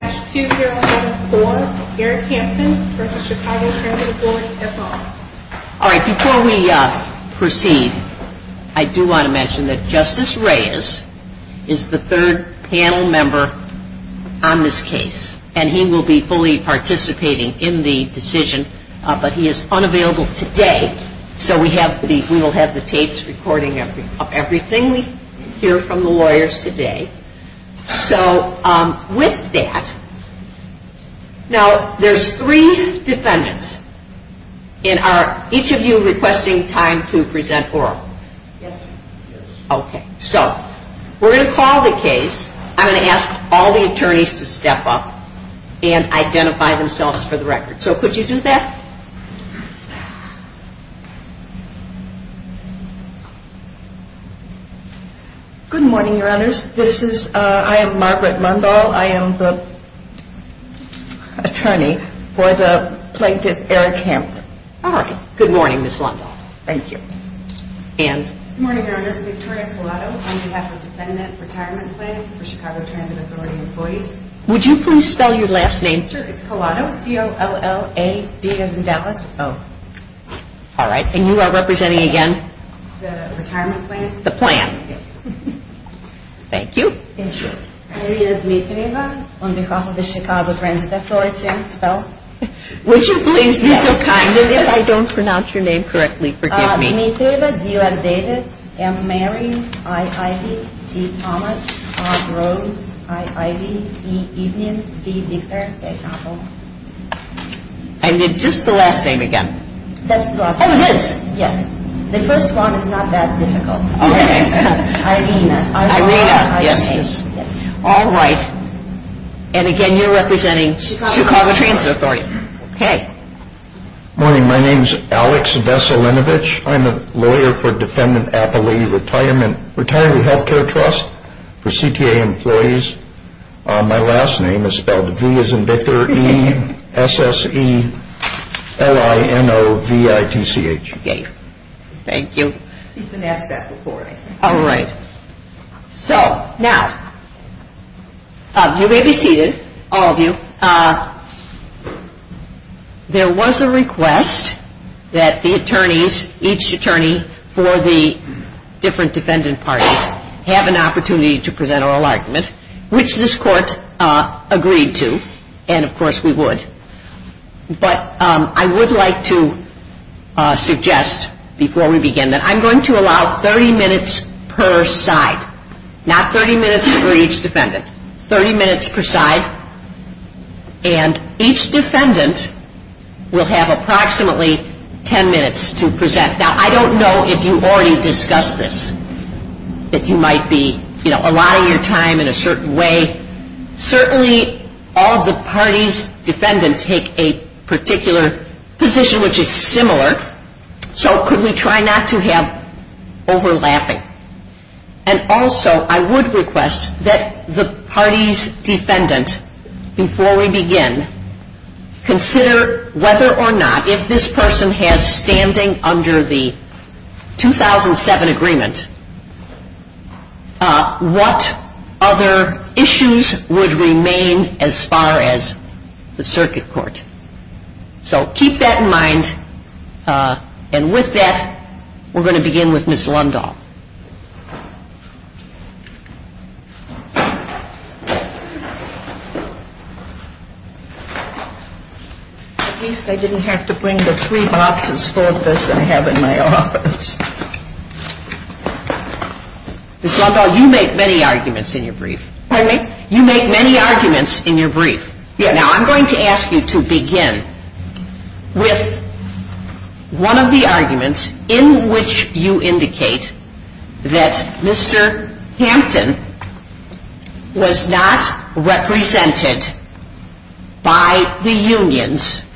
All right, before we proceed, I do want to mention that Justice Reyes is the third panel member on this case, and he will be fully participating in the decision, but he is unavailable today, so we will have the tapes recording everything we hear from the lawyers today. So, with that, now, there's three defendants, and are each of you requesting time to present oral? Yes. Okay, so, we're going to call the case. I'm going to ask all the attorneys to step up and identify themselves for the record. So, could you do that? Good morning, Your Honors. I am Margaret Lundahl. I am the attorney for the plaintiff, Eric Hampton. All right. Good morning, Ms. Lundahl. Thank you. Good morning, Your Honors. I'm Victoria Colato. I'm the National Defendant Retirement Plaintiff for the Chicago Transit Authority employee. Would you please spell your last name? I'm Victoria Colato. All right. And you are representing again? The retirement plaintiff. The plaintiff. Thank you. My name is Lisa Riva. I'm because of the Chicago Transit Authority. Would you please use your time? I guess I don't pronounce your name correctly. Forgive me. My name is Lisa Riva. You are David M. Mary I. I. V. C. Thomas R. Rose I. I. V. E. Evian C. Victor. I need just the last name again. The first one is not that difficult. All right. And again, you are representing Chicago Transit Authority. Good morning. My name is Alex Veselinovich. I'm a lawyer for the Defendant Appellee Retirement Health Care Trust for CTA employees. My last name is spelled V as in Victor, E-S-S-E-L-I-N-O-V-I-C-H. Okay. Thank you. All right. So, now, you may be seated, all of you. There was a request that the attorneys, each attorney for the different defendant parties, have an opportunity to present our alignment, which this court agreed to, and, of course, we would. But I would like to suggest, before we begin, that I'm going to allow 30 minutes per side. Not 30 minutes for each defendant. 30 minutes per side. And each defendant will have approximately 10 minutes to present. Now, I don't know if you've already discussed this, that you might be, you know, allotting your time in a certain way. Certainly, all the parties' defendants take a particular position, which is similar, so could we try not to have overlapping? And also, I would request that the parties' defendants, before we begin, consider whether or not, if this person has standing under the 2007 agreement, what other issues would remain as far as the circuit court. So, keep that in mind, and with that, we're going to begin with Ms. Lundahl. Ms. Lundahl, you make many arguments in your brief. Pardon me? Now, I'm going to ask you to begin with one of the arguments in which you indicate that Mr. Hampton was not represented by the unions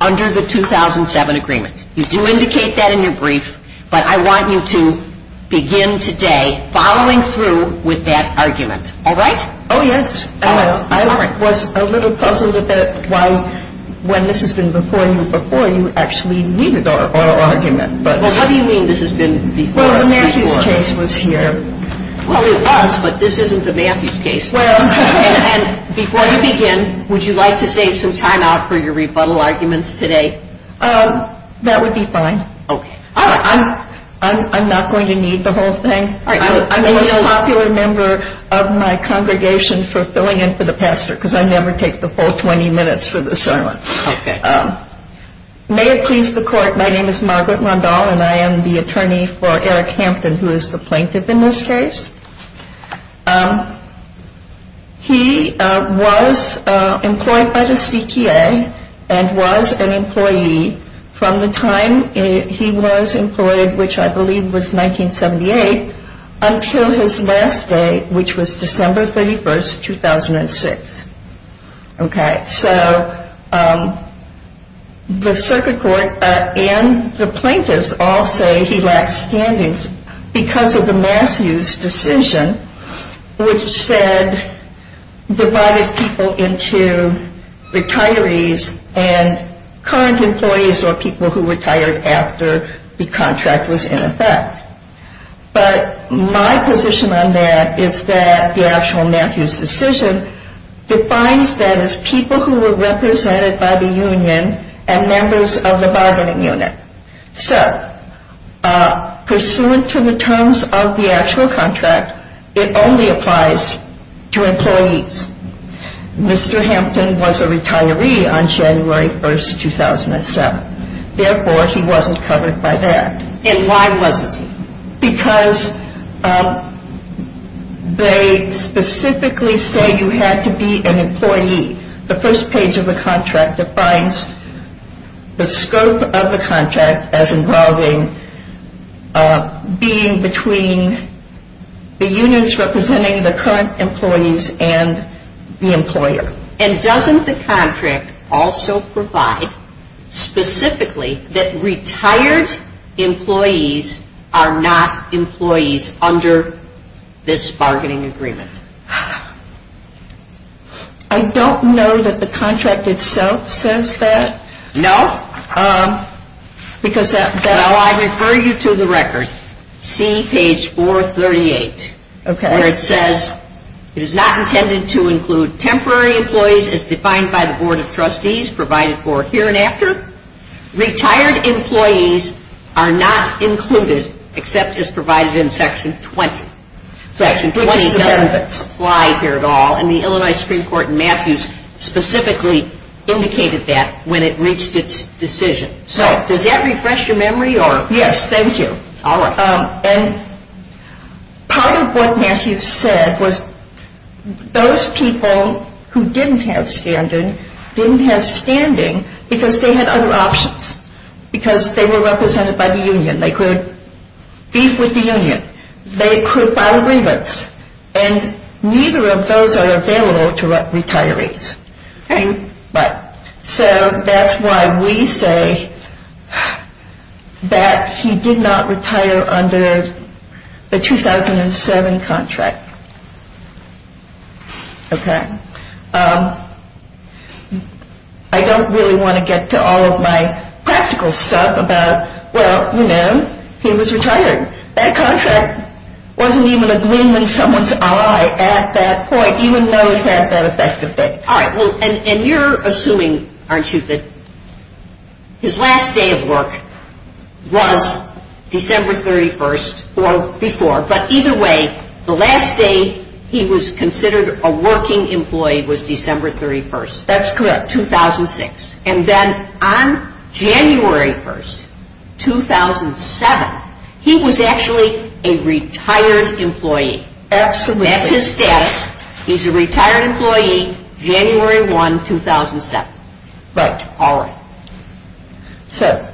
under the 2007 agreement. You do indicate that in your brief, but I want you to begin today following through with that argument. All right? Oh, yes. I was a little puzzled about why, when this has been before you, before you actually needed our argument. Well, how do you mean this has been before? Well, the Matthews case was here. Well, it was, but this isn't the Matthews case. And before you begin, would you like to take some time off for your rebuttal arguments today? That would be fine. Okay. I'm not going to need the whole thing. I'm a popular member of my congregation for filling in for the pastor, because I never take the full 20 minutes for the sermon. Okay. May it please the court, my name is Margaret Lundahl, and I am the attorney for Eric Hampton, who is the plaintiff in this case. He was employed by the CTA and was an employee from the time he was employed, which I believe was 1978, until his last day, which was December 31, 2006. Okay. So the circuit court and the plaintiffs all say he lacked standings because of the Matthews decision, which said, divided people into retirees and current employees or people who retired after the contract was in effect. But my position on that is that the actual Matthews decision defines them as people who were represented by the union and members of the bargaining unit. So, pursuant to the terms of the actual contract, it only applies to employees. Mr. Hampton was a retiree on January 1, 2007. Therefore, he wasn't covered by that. And why wasn't he? Because they specifically say you have to be an employee. The first page of the contract defines the scope of the contract as involving being between the units representing the current employees and the employer. And doesn't the contract also provide specifically that retired employees are not employees under this bargaining agreement? I don't know that the contract itself says that. No. Because I'll refer you to the record. See page 438. Okay. Where it says, it is not intended to include temporary employees as defined by the Board of Trustees provided for here and after. Retired employees are not included except as provided in Section 20. Section 20 doesn't apply here at all. And the Illinois Supreme Court in Matthews specifically indicated that when it reached its decision. So, does that refresh your memory? Yes, thank you. All right. And part of what Matthews said was those people who didn't have standards didn't have standing because they had other options. Because they were represented by the union. They could be with the union. They could find remotes. And neither of those are available to retirees. So, that's why we say that he did not retire under the 2007 contract. Okay. I don't really want to get to all of my practical stuff about, well, you know, he was retired. That contract wasn't even a gleam in someone's eye at that point even though he had that effective date. All right. And you're assuming, aren't you, that his last day of work was December 31st or before. But either way, the last day he was considered a working employee was December 31st. That's correct. 2006. And then on January 1st, 2007, he was actually a retired employee. That's correct. That's his status. He's a retired employee January 1, 2007. Right. All right. So,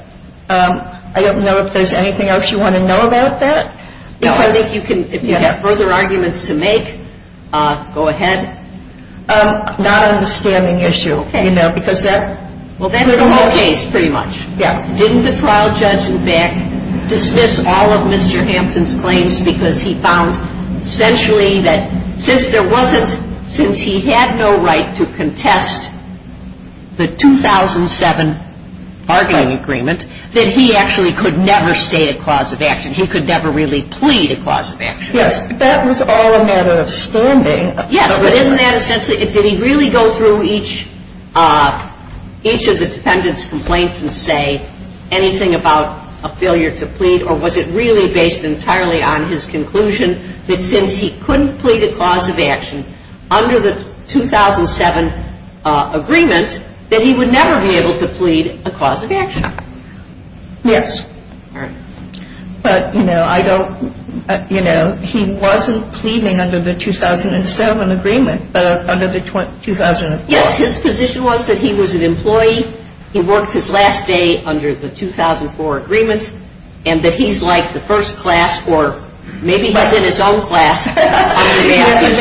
I don't know if there's anything else you want to know about that. I think you can, if you have further arguments to make, go ahead. Not on the standing issue. Okay. Because that's the whole case pretty much. Correct. Didn't the trial judge, in fact, dismiss all of Mr. Hampton's claims because he found essentially that since there wasn't, since he had no right to contest the 2007 bargaining agreement, that he actually could never stay a cause of action. He could never really plead a cause of action. Yes. That was all a matter of standing. Yes. But isn't that essentially, did he really go through each of the defendant's complaints and say anything about a failure to plead? Or was it really based entirely on his conclusion that since he couldn't plead a cause of action under the 2007 agreement, that he would never be able to plead a cause of action? Yes. All right. But, you know, I don't, you know, he wasn't pleading under the 2007 agreement, but under the 2004. Yes, his position was that he was an employee who worked his last day under the 2004 agreement and that he's like the first class or maybe he's in his own class.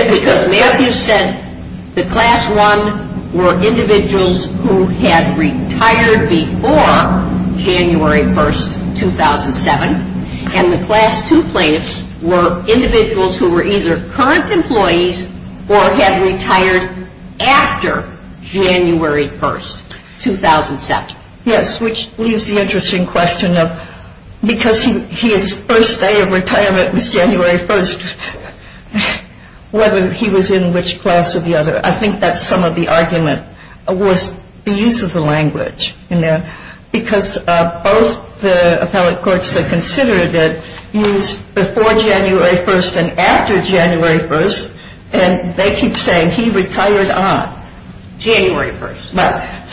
Because Mayorkas said the class one were individuals who had retired before January 1st, 2007, and the class two plaintiffs were individuals who were either current employees or had retired after January 1st, 2007. Yes, which leaves the interesting question of, because his first day of retirement was January 1st, whether he was in which class or the other, I think that's some of the argument, was the use of the language in there. Because both the appellate courts that considered it used before January 1st and after January 1st, and they keep saying he retired on January 1st.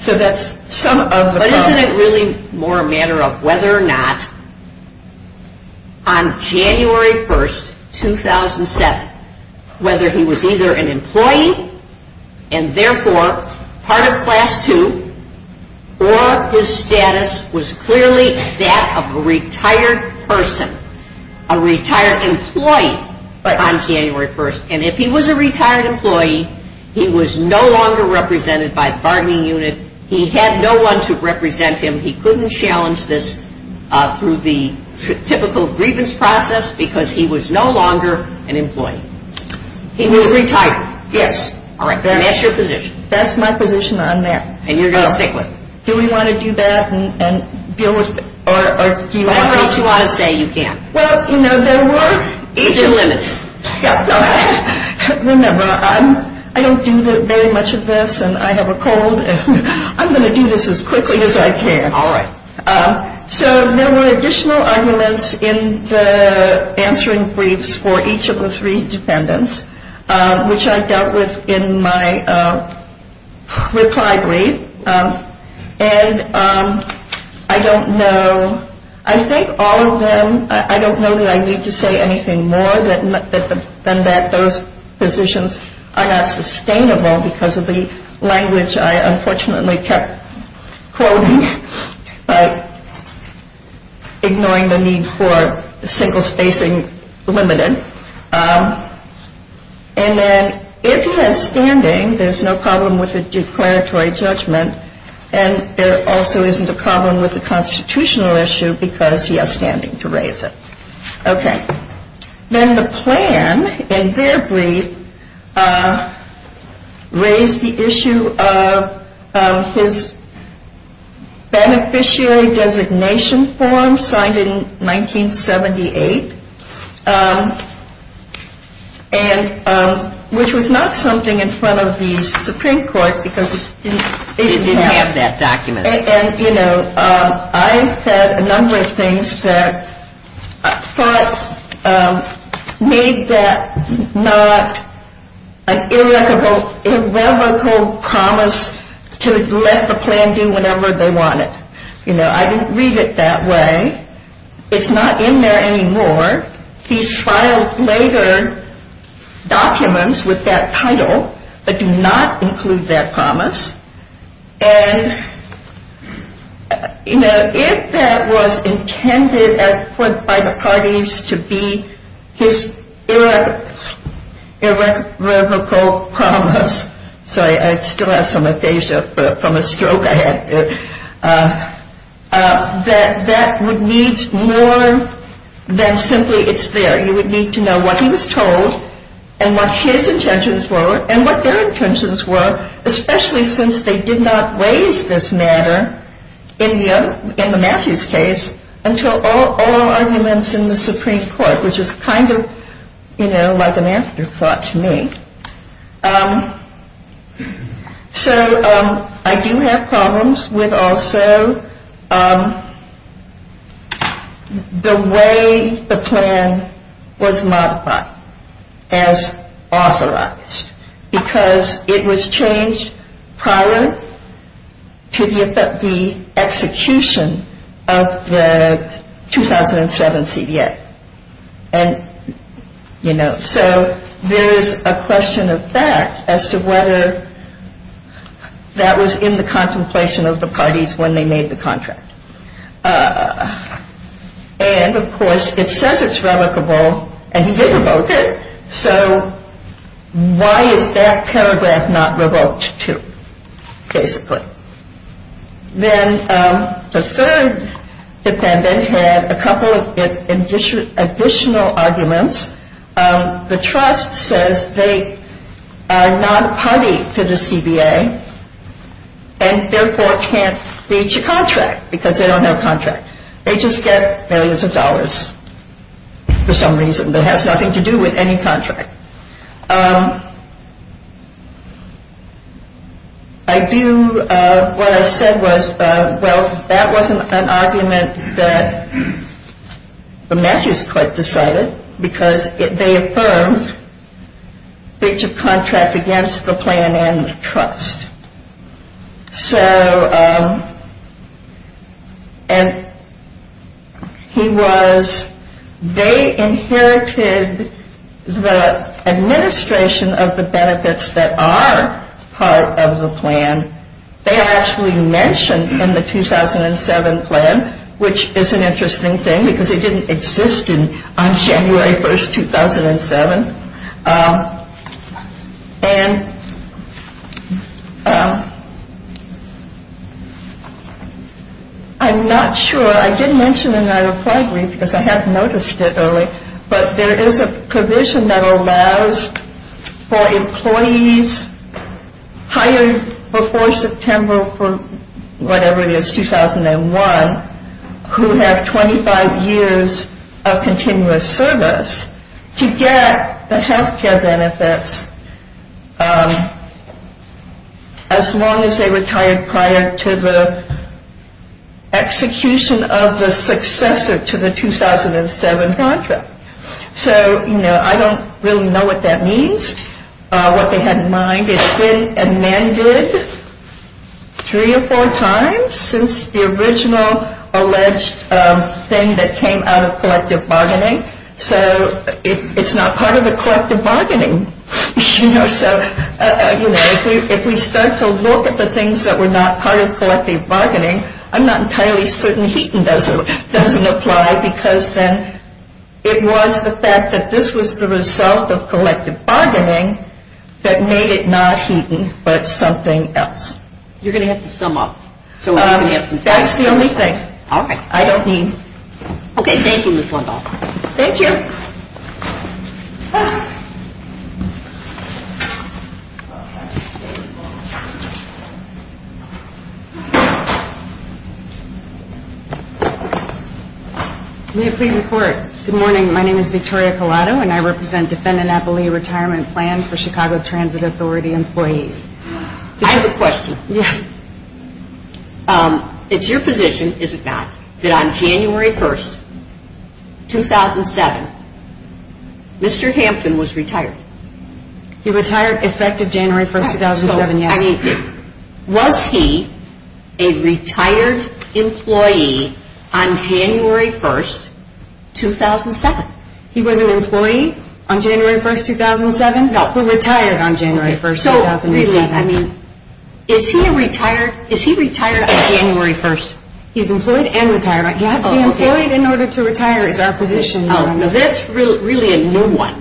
So that's some of the- But isn't it really more a matter of whether or not on January 1st, 2007, whether he was either an employee and therefore part of class two or his status was clearly that of a retired person, a retired employee on January 1st. And if he was a retired employee, he was no longer represented by the bargaining unit. He had no one to represent him. He couldn't challenge this through the typical grievance process because he was no longer an employee. He was retired. Yes. And that's your position. That's my position on that. And you're going to take what? Do we want to do that and deal with it? Or do you want to say you can't? Well, you know, there were- Remember, I don't do very much of this, and I have a cold, and I'm going to do this as quickly as I can. All right. So there were additional arguments in the answering briefs for each of the three dependents, which I dealt with in my reply brief, and I don't know. I think all of them-I don't know that I need to say anything more than that. Those positions are not sustainable because of the language I unfortunately kept quoting, like ignoring the need for single spacing limited. And then if he has standing, there's no problem with the declaratory judgment, and there also isn't a problem with the constitutional issue because he has standing to raise it. Okay. Then the plan, in their brief, raised the issue of his beneficiary designation form signed in 1978, which was not something in front of the Supreme Court because- It didn't have that document. And, you know, I said a number of things that I thought made that not an irrevocable promise to let the plan do whatever they wanted. You know, I didn't read it that way. It's not in there anymore. He filed later documents with that title, but do not include that promise. And, you know, if that was intended at this point by the parties to be his irrevocable promise- It needs more than simply it's there. You would need to know what he was told and what his intentions were and what their intentions were, especially since they did not raise this matter in the Matthews case until all arguments in the Supreme Court, which is kind of, you know, like an afterthought to me. Okay. So I do have problems with also the way the plan was modified as authorized because it was changed prior to the execution of the 2007 CDA. And, you know, so there's a question of fact as to whether that was in the contemplation of the parties when they made the contract. And, of course, it says it's revocable and he did revoke it, so why is that paragraph not revoked too, basically? Then the third defendant had a couple of additional arguments. The trust says they are not party to the CDA and therefore can't reach a contract because they don't have contracts. They just get billions of dollars for some reason that has nothing to do with any contract. What I said was, well, that wasn't an argument that the Matthews court decided because they affirmed to reach a contract against the plan and the trust. So, and he was, they inherited the administration of the benefits that are part of the plan. They actually mentioned in the 2007 plan, which is an interesting thing because it didn't exist on January 1st, 2007. And I'm not sure, I did mention in my reply brief, because I have noticed it earlier, but there is a provision that allows for employees hired before September, whatever it is, 2001, who have 25 years of continuous service to get the health care benefits as long as they retire prior to the execution of the successor to the 2007 contract. So, you know, I don't really know what that means. What they had in mind is that a man did three or four times since the original alleged thing that came out of collective bargaining. So, it's not part of the collective bargaining. So, you know, if we start to look at the things that were not part of collective bargaining, I'm not entirely certain Heaton doesn't apply because then it was the fact that this was the result of collective bargaining that made it not Heaton but something else. You're going to have to sum up. That's the only thing. All right. I don't need. Okay. Thank you, Ms. Long. Thank you. May I please report? Good morning. My name is Victoria Pilato and I represent Defendant Appley Retirement Plan for Chicago Transit Authority Employees. I have a question. Yes. If your position is that on January 1, 2007, Mr. Hampton was retired. He retired effective January 1, 2007, yes. I mean, was he a retired employee on January 1, 2007? He was an employee on January 1, 2007? No, he retired on January 1, 2007. So, I mean, is he retired on January 1? He's employed and retired, yes. Employed in order to retire is our position. Now, that's really a new one.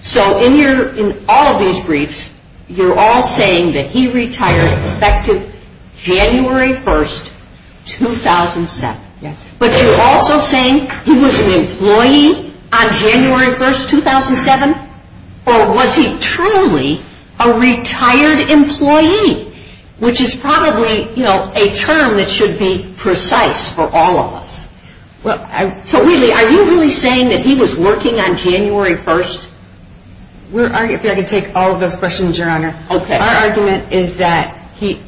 So, in all of these briefs, you're all saying that he retired effective January 1, 2007. Yes. But you're also saying he was an employee on January 1, 2007? Or was he truly a retired employee? Which is probably, you know, a term that should be precise for all of us. So, really, are you really saying that he was working on January 1? We're going to take all of those questions, Your Honor. Okay. Our argument is that he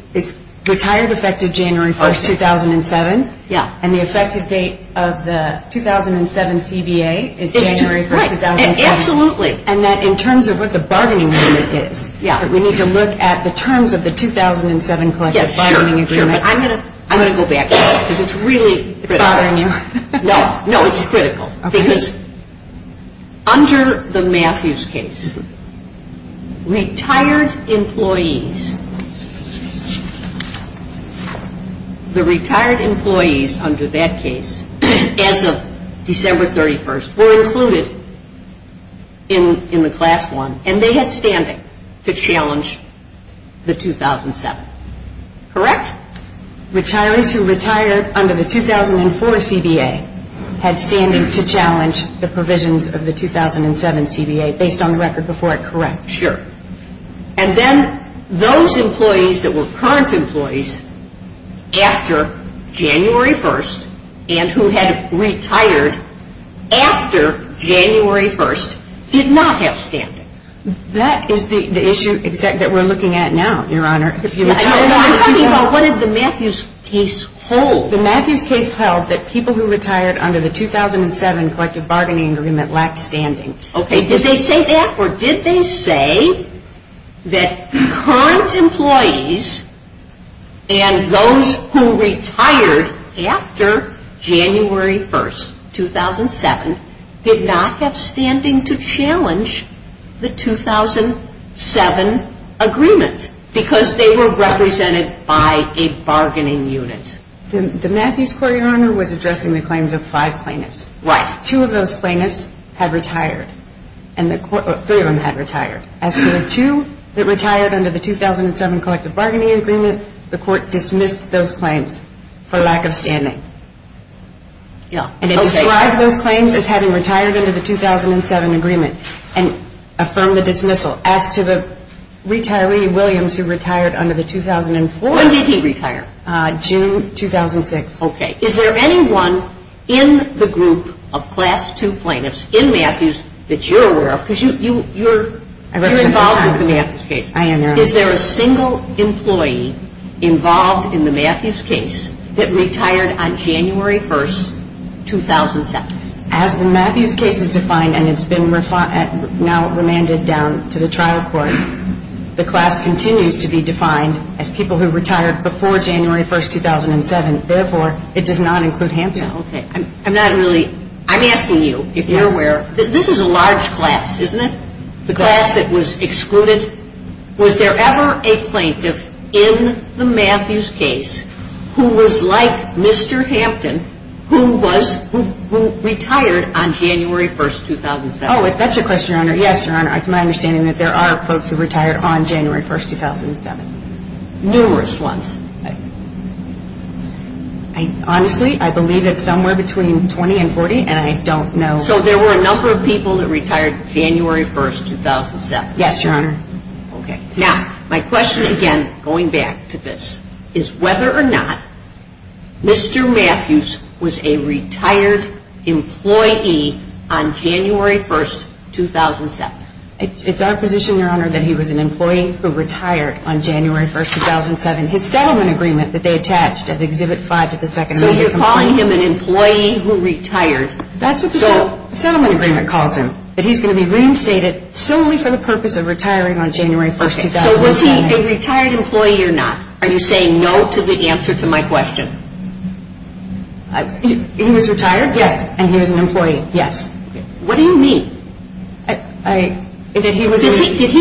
retired effective January 1, 2007. Yes. And the effective date of the 2007 CDA is January 1, 2007. Absolutely. And that in terms of what the bargaining agreement is, we need to look at the terms of the 2007 collective bargaining agreement. I'm going to go back to that because it's really critical. No, it's critical. Because under the Matthews case, retired employees, the retired employees under that case, as of December 31st, were included in the class one, and they had standing to challenge the 2007. Correct? Retirees who retired under the 2004 CDA had standing to challenge the provisions of the 2007 CDA based on the record before it, correct? Sure. And then those employees that were current employees after January 1st and who had retired after January 1st did not have standing. That is the issue that we're looking at now, Your Honor. I'm talking about what did the Matthews case hold. The Matthews case held that people who retired under the 2007 collective bargaining agreement lacked standing. Okay. Did they say that or did they say that current employees and those who retired after January 1st, 2007, did not have standing to challenge the 2007 agreement because they were represented by a bargaining unit? The Matthews court, Your Honor, was addressing the claims of five plaintiffs. Right. Two of those plaintiffs had retired. Three of them had retired. As for the two that retired under the 2007 collective bargaining agreement, the court dismissed those claims for lack of standing. Okay. So I've heard claims of having retired under the 2007 agreement and affirmed the dismissal. As to the retiree, Williams, who retired under the 2004... When did he retire? June 2006. Okay. Is there anyone in the group of Class II plaintiffs in Matthews that you're aware of? Because you're involved with the Matthews case. I am, Your Honor. Is there a single employee involved in the Matthews case that retired on January 1st, 2007? As the Matthews case was defined and has been now remanded down to the trial court, the class continues to be defined as people who retired before January 1st, 2007. Therefore, it does not include him. Okay. I'm not really... I'm asking you if you're aware. This is a large class, isn't it? The class that was excluded. Was there ever a plaintiff in the Matthews case who was like Mr. Hampton, who retired on January 1st, 2007? Oh, that's your question, Your Honor. Yes, Your Honor. It's my understanding that there are folks who retired on January 1st, 2007. Numerous ones. Honestly, I believe it's somewhere between 20 and 40, and I don't know... So there were a number of people that retired January 1st, 2007. Yes, Your Honor. Okay. Now, my question, again, going back to this, is whether or not Mr. Matthews was a retired employee on January 1st, 2007. It's our position, Your Honor, that he was an employee who retired on January 1st, 2007. His settlement agreement that they attached as Exhibit 5 to the Second Amendment... So you're calling him an employee who retired. That's what the settlement agreement calls him. But he's going to be reinstated solely for the purpose of retiring on January 1st, 2007. Okay. So was he a retired employee or not? Are you saying no to the answer to my question? He was retired? Yes. And he was an employee? Yes. What do you mean? Did he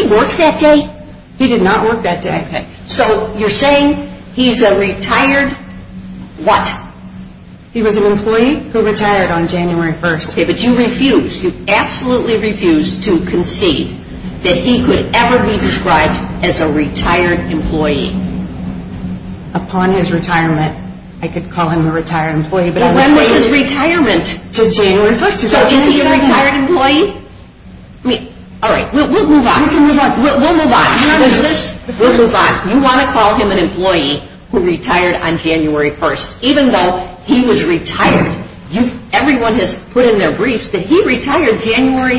work that day? He did not work that day, I said. So you're saying he's a retired what? He was an employee who retired on January 1st. Okay. But you refused. You absolutely refused to concede that he could ever be described as a retired employee. Upon his retirement, I could call him a retired employee. Well, when was his retirement? Until January 1st. So he was a retired employee? All right. We'll move on. We can move on. We'll move on. We'll move on. You want to call him an employee who retired on January 1st, even though he was retiring. Everyone has put in their briefs that he retired January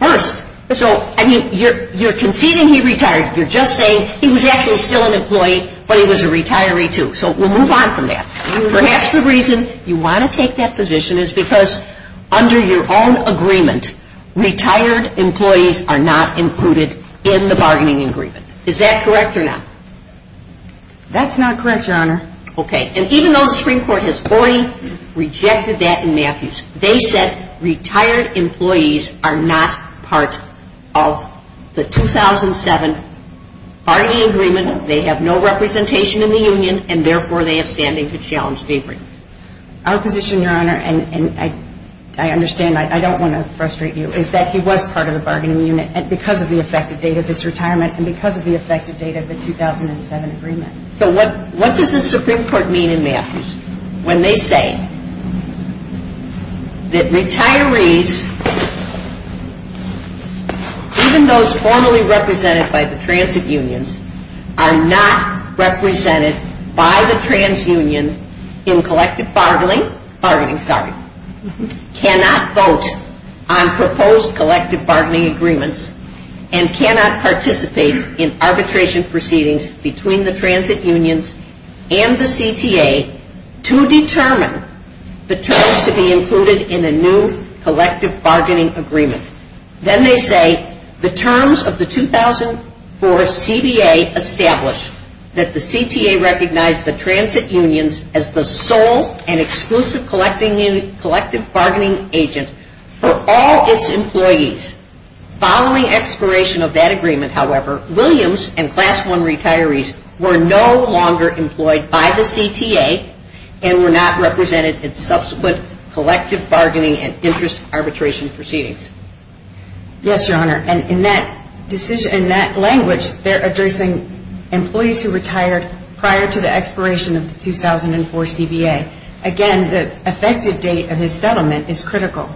1st. So, I mean, you're conceding he retired. You're just saying he was actually still an employee, but he was a retiree, too. So we'll move on from that. Perhaps the reason you want to take that position is because under your own agreement, retired employees are not included in the bargaining agreement. Is that correct or not? That's not correct, Your Honor. Okay. And even though the Supreme Court has fully rejected that in Matthews, they said retired employees are not part of the 2007 bargaining agreement. They have no representation in the union, and therefore they are standing to challenge Avery. Our position, Your Honor, and I understand, I don't want to frustrate you, is that he was part of the bargaining unit because of the effective date of his retirement and because of the effective date of the 2007 agreement. So what does the Supreme Court mean in Matthews when they say that retirees, even those formally represented by the transit unions, are not represented by the trans unions in collective bargaining, cannot vote on proposed collective bargaining agreements and cannot participate in arbitration proceedings between the transit unions and the CTA to determine the terms to be included in a new collective bargaining agreement. Then they say the terms of the 2004 CDA establish that the CTA recognized the transit unions as the sole and exclusive collective bargaining agent for all its employees Following expiration of that agreement, however, Williams and Class I retirees were no longer employed by the CTA and were not represented in subsequent collective bargaining and interest arbitration proceedings. Yes, Your Honor, and in that language, they're addressing employees who retired prior to the expiration of the 2004 CDA. Again, the effective date of his settlement is critical.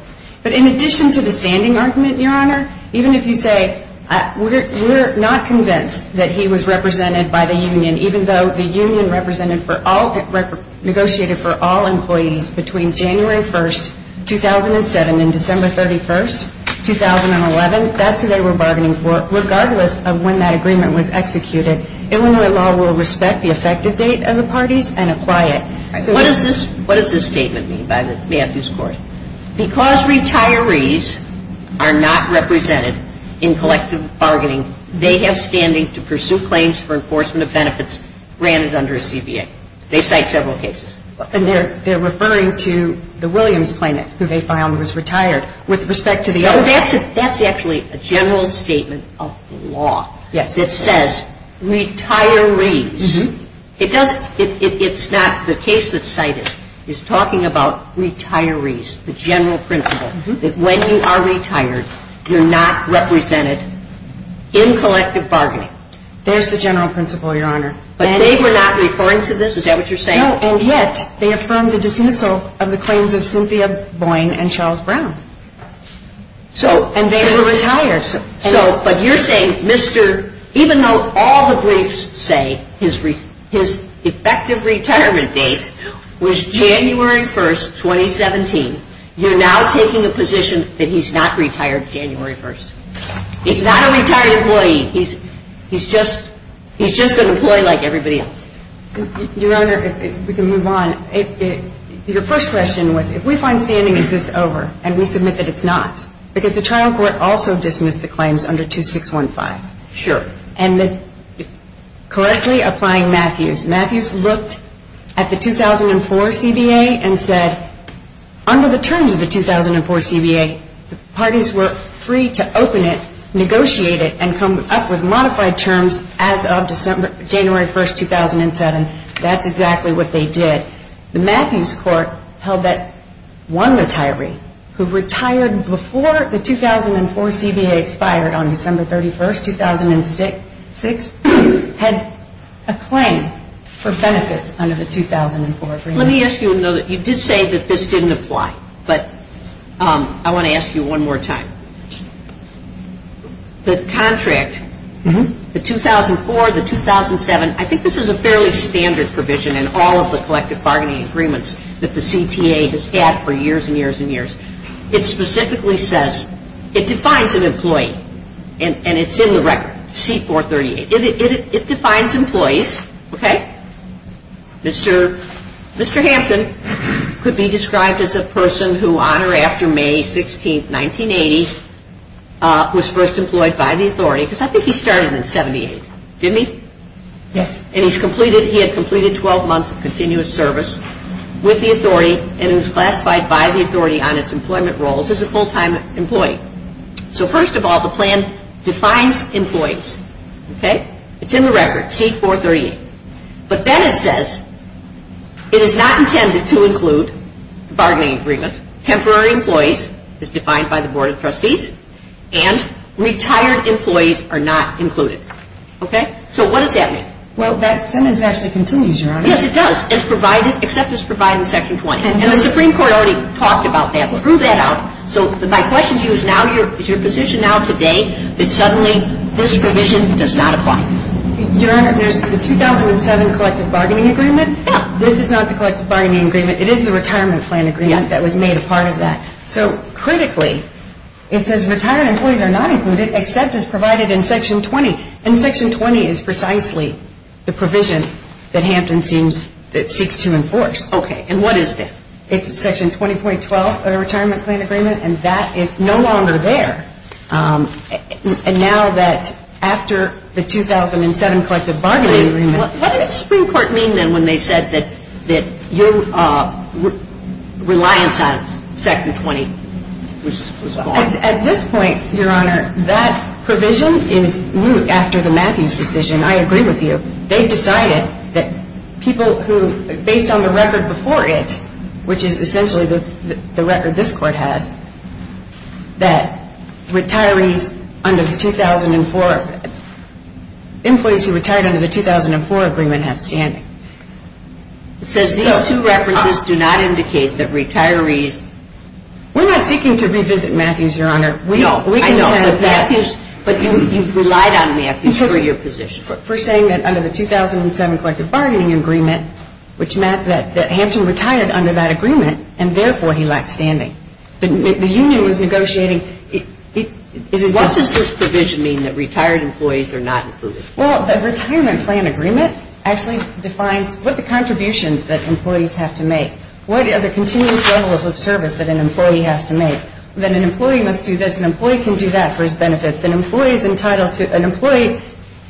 But in addition to the standing argument, Your Honor, even if you say we're not convinced that he was represented by the union, even though the union negotiated for all employees between January 1, 2007 and December 31, 2011, that's who they were bargaining for. Regardless of when that agreement was executed, Illinois law will respect the effective date of the parties and apply it. What does this statement mean by Matthews Court? Because retirees are not represented in collective bargaining, they have standing to pursue claims for enforcement of benefits granted under a CDA. They cite several cases. And they're referring to the Williams claim that they found was retired with respect to the other. That's actually a general statement of the law that says retirees. It's not. The case that's cited is talking about retirees, the general principle, that when you are retired, you're not represented in collective bargaining. There's the general principle, Your Honor. But they were not referring to this? Is that what you're saying? No, and yet, they affirmed the de finito of the claims of Cynthia Boyne and Charles Brown. And they were retirees. But you're saying, even though all the briefs say his effective retirement date was January 1st, 2017, you're now taking the position that he's not retired January 1st. He's not a retired employee. He's just an employee like everybody else. Your Honor, if we can move on. Your first question was, if we find standing is this over, and we submit that it's not, because the trial court also dismissed the claims under 2615. Sure. And correctly applying Matthews. Matthews looked at the 2004 CBA and said, under the terms of the 2004 CBA, parties were free to open it, negotiate it, and come up with modified terms as of January 1st, 2007. That's exactly what they did. The Matthews court held that one retiree who retired before the 2004 CBA expired on December 31st, 2006, had a claim for benefits under the 2004 CBA. Let me ask you, though. You did say that this didn't apply. But I want to ask you one more time. The contract, the 2004, the 2007, I think this is a fairly standard provision in all of the collective bargaining agreements that the CTA has had for years and years and years. It specifically says, it defines an employee, and it's in the record, C438. It defines employees, okay? Mr. Hanson could be described as a person who, on or after May 16th, 1980, was first employed by the authority, because I think he started in 1978, didn't he? Yes. And he had completed a 12-month continuous service with the authority, and was classified by the authority on its employment roles as a full-time employee. So, first of all, the plan defines employees, okay? It's in the record, C438. But then it says, it is not intended to include bargaining agreements, temporary employees, as defined by the Board of Trustees, and retired employees are not included. Okay? So what does that mean? Well, that sentence actually continues, Your Honor. Yes, it does. Except it's provided in Section 20. And the Supreme Court already talked about that, but threw that out. So my question to you is, is your position now, today, that suddenly this provision does not apply? Your Honor, the 2007 collective bargaining agreement, this is not the collective bargaining agreement. It is the retirement plan agreement that was made a part of that. So, critically, it says retired employees are not included, except it's provided in Section 20. And Section 20 is precisely the provision that Hampton seeks to enforce. Okay. And what is this? It's Section 20.12 of the retirement plan agreement, and that is no longer there. And now that, after the 2007 collective bargaining agreement, What did the Supreme Court mean then when they said that you reliant on Section 20? At this point, Your Honor, that provision is new. After the Matthews decision, I agree with you, they decided that people who, based on the record before it, which is essentially the record this Court has, that employees who retired under the 2004 agreement have standing. It says these two references do not indicate that retirees... We're not seeking to revisit Matthews, Your Honor. I know. But you relied on Matthews for your position. For saying that under the 2007 collective bargaining agreement, which meant that Hampton retired under that agreement, and therefore he lacked standing. The union was negotiating... What does this provision mean that retired employees are not included? Well, the retirement plan agreement actually defines what the contributions that employees have to make, what are the continuous levels of service that an employee has to make, that an employee must do this, an employee can do that for his benefits, that an employee is entitled to... An employee...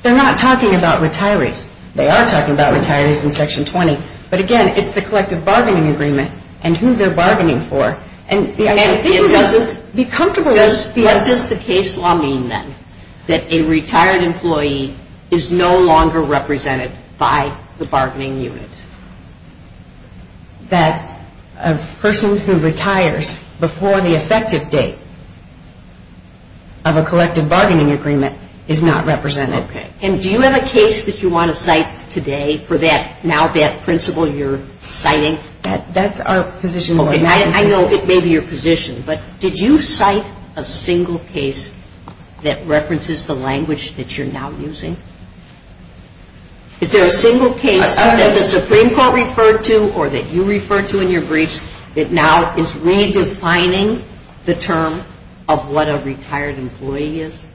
They're not talking about retirees. They are talking about retirees in Section 20. But again, it's the collective bargaining agreement and who they're bargaining for. And... Be comfortable. What does the case law mean, then, that a retired employee is no longer represented by the bargaining unit? That a person who retires before the effective date of a collective bargaining agreement is not represented. Okay. And do you have a case that you want to cite today for that, now that principle you're citing? That's our position. I know it may be your position, but did you cite a single case that references the language that you're now using? Is there a single case that the Supreme Court referred to, or that you referred to in your briefs, that now is redefining the term of what a retired employee is?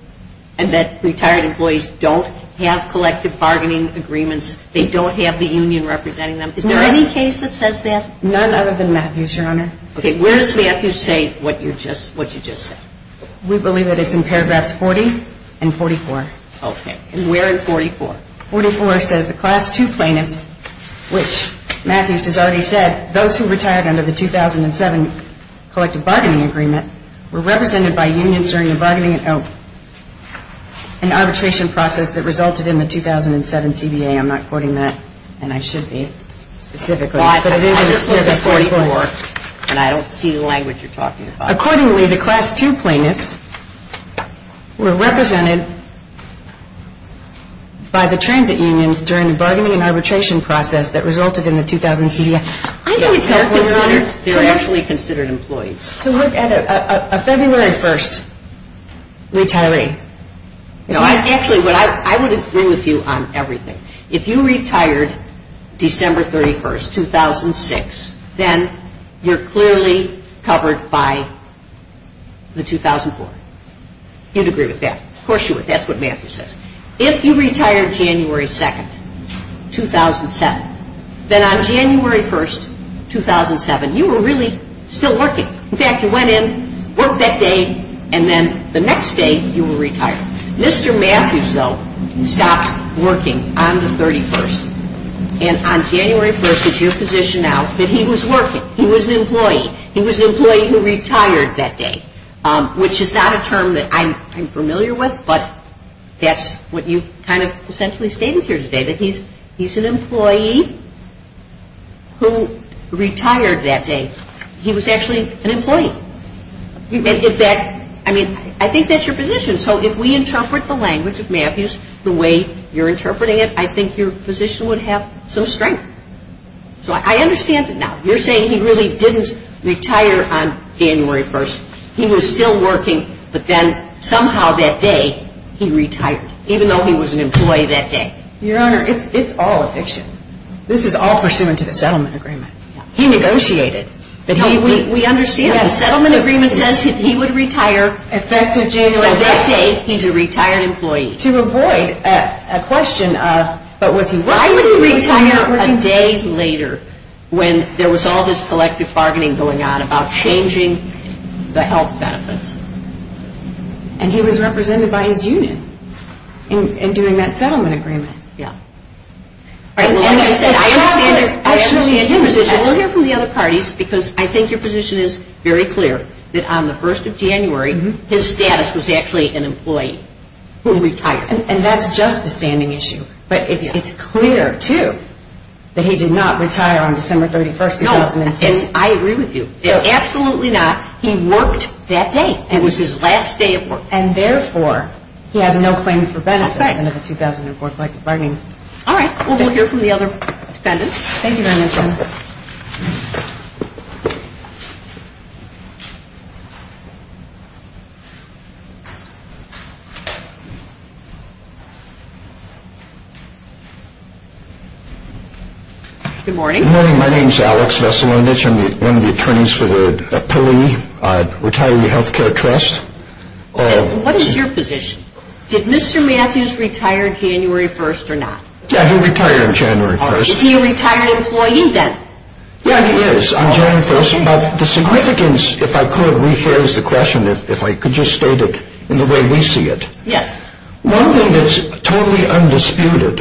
And that retired employees don't have collective bargaining agreements. They don't have the union representing them. Is there any case that says that? None other than Matthews, Your Honor. Okay. Where does Matthews say what you just said? We believe that it's in paragraphs 40 and 44. Okay. And where in 44? 44 says the Class 2 plaintiffs, which Matthews has already said, those who retired under the 2007 collective bargaining agreement were represented by unions during the bargaining and arbitration process that resulted in the 2007 CBA. I'm not quoting that, and I should be, specifically. But it is in paragraph 44. And I don't see the language you're talking about. Accordingly, the Class 2 plaintiffs were represented by the transit unions during the bargaining and arbitration process that resulted in the 2007 CBA. I think it's helpful, Your Honor, to look at a, a February 1st retiring. Actually, I would agree with you on everything. If you retired December 31st, 2006, then you're clearly covered by the 2004. You'd agree with that. Of course you would. That's what Matthews says. If you retired January 2nd, 2007, then on January 1st, 2007, you were really still working. In fact, you went in, worked that day, and then the next day you were retired. Mr. Matthews, though, stopped working on the 31st. And on January 1st, it's your position now that he was working. He was an employee. He was an employee who retired that day, which is not a term that I'm familiar with, but that's what you've kind of essentially stated here today, that he's an employee who retired that day. He was actually an employee. Is that, I mean, I think that's your position. So if we interpret the language of Matthews the way you're interpreting it, I think your position would have some strength. So I understand it now. You're saying he really didn't retire on January 1st. He was still working, but then somehow that day he retired, even though he was an employee that day. Your Honor, it's all fiction. This is all pursuant to the settlement agreement. He negotiated. We understand that. The settlement agreement says that he would retire effective January 1st. That day he's a retired employee. To avoid a question of why would he retire a day later when there was all this collective bargaining going on about changing the health benefits. And he was represented by his union in doing that settlement agreement. I agree with you. I hear from the other parties because I think your position is very clear that on the 1st of January his status was actually an employee who retired. And that's just a standing issue. But it's clear, too, that he did not retire on December 31st. I agree with you. Absolutely not. He worked that day. It was his last day of work. And, therefore, he had no claim for benefit under the 2004 site bargaining. All right. We'll hear from the other defendants. Thank you very much, Your Honor. Good morning. Good morning. My name is Alex Veselovich. I'm one of the attorneys for the Pelley Retiree Health Care Trust. What is your position? Did Mr. Matthews retire January 1st or not? He retired January 1st. Is he a retired employee then? Yes, he is. He retired 1st. The significance, if I could, rephrase the question, if I could just state it in the way we see it. One thing that's totally undisputed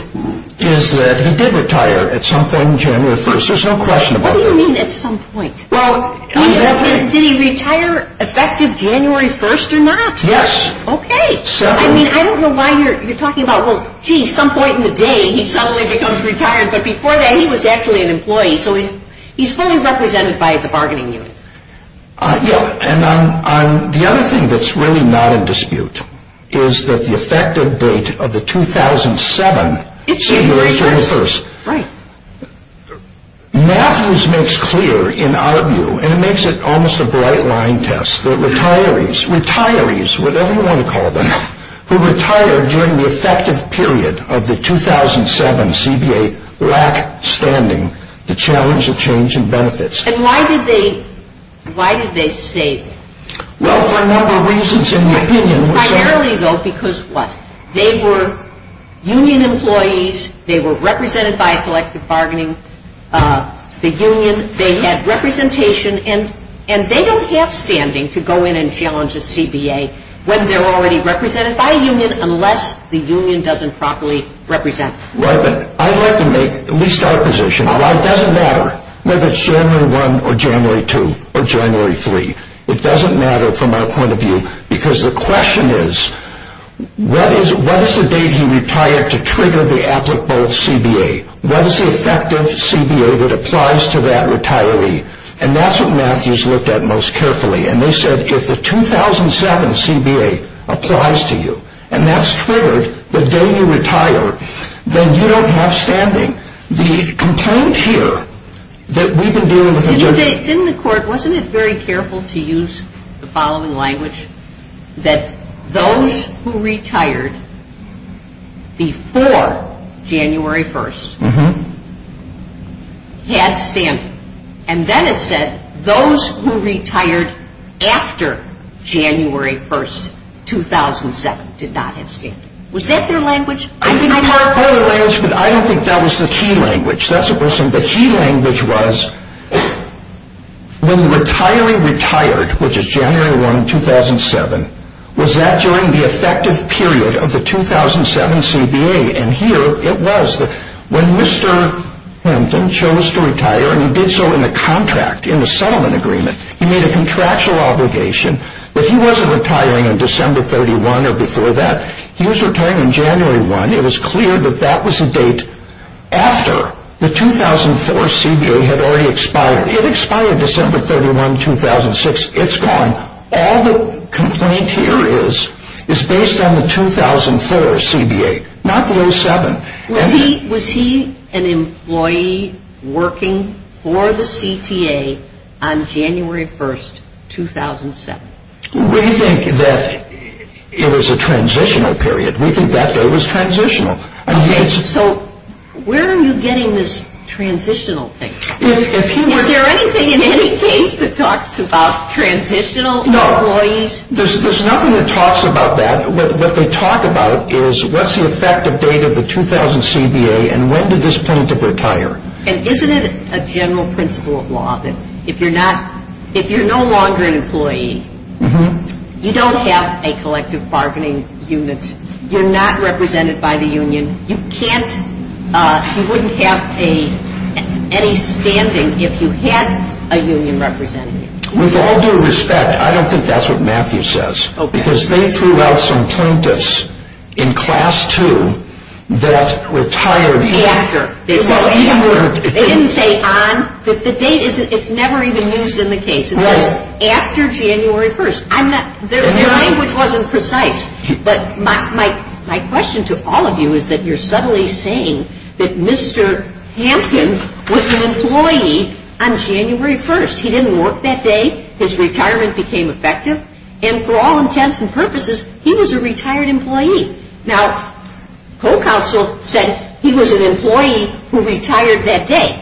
is that he did retire at some point January 1st. There's no question about it. What do you mean at some point? Well, did he retire effective January 1st or not? Yes. Okay. I mean, I don't know why you're talking about, well, gee, some point in the day he suddenly becomes retired, but before that he was actually an employee. So he's fully represented by the bargaining unit. Yeah. And the other thing that's really not in dispute is that the effective date of the 2007 is January 1st. Right. Matthews makes clear, in our view, and makes it almost a bright-line test, that retirees, retirees, whatever you want to call them, who retire during the effective period of the 2007 CBA lack standing the challenge of change and benefits. And why did they say that? Well, there are a number of reasons in the opinion. Primarily, though, because what? They were union employees. They were represented by collective bargaining. The union, they had representation, and they don't have standing to go in and challenge the CBA when they're already represented by a union, unless the union doesn't properly represent them. Right. But I'd like to make at least our position. Why? It doesn't matter whether it's January 1 or January 2 or January 3. It doesn't matter from our point of view, because the question is, what is the date you retire to trigger the applicable CBA? What is the effective CBA that applies to that retiree? And that's what Matthews looked at most carefully. And they said, if the 2007 CBA applies to you, and that's triggered the day you retire, then you don't have standing. The concern here that we've been doing... Didn't the court, wasn't it very careful to use the following language, that those who retired before January 1st had standing? And then it said, those who retired after January 1st, 2007, did not have standing. Was that their language? I don't think that was the key language. The key language was, when the retiree retired, which is January 1, 2007, was that during the effective period of the 2007 CBA? And here it was. When Mr. Hinton chose to retire, and he did so in the contract, in the settlement agreement, he made a contractual obligation that he wasn't retiring on December 31 or before that. He was retiring January 1. It was clear that that was the date after the 2004 CBA had already expired. It expired December 31, 2006. It's gone. All the complaint here is, is based on the 2004 CBA, not the 2007. Was he an employee working for the CTA on January 1st, 2007? We think that it was a transitional period. We think that day was transitional. So where are you getting this transitional thing? Is there anything in any case that talks about transitional employees? No. There's nothing that talks about that. What they talk about is, what's the effective date of the 2000 CBA, and when did this plaintiff retire? And isn't it a general principle of law that if you're not, you're no longer an employee. You don't have a collective bargaining unit. You're not represented by the union. You can't, you wouldn't have any standing if you had a union representative. With all due respect, I don't think that's what Matthew says. Okay. Because they threw out some plaintiffs in Class 2 that retired after. They didn't say on, but the date, it's never even used in the case. After January 1st. The language wasn't precise. But my question to all of you is that you're subtly saying that Mr. Hampton was an employee on January 1st. He didn't work that day. His retirement became effective. And for all intents and purposes, he was a retired employee. Now, co-counsel says he was an employee who retired that day.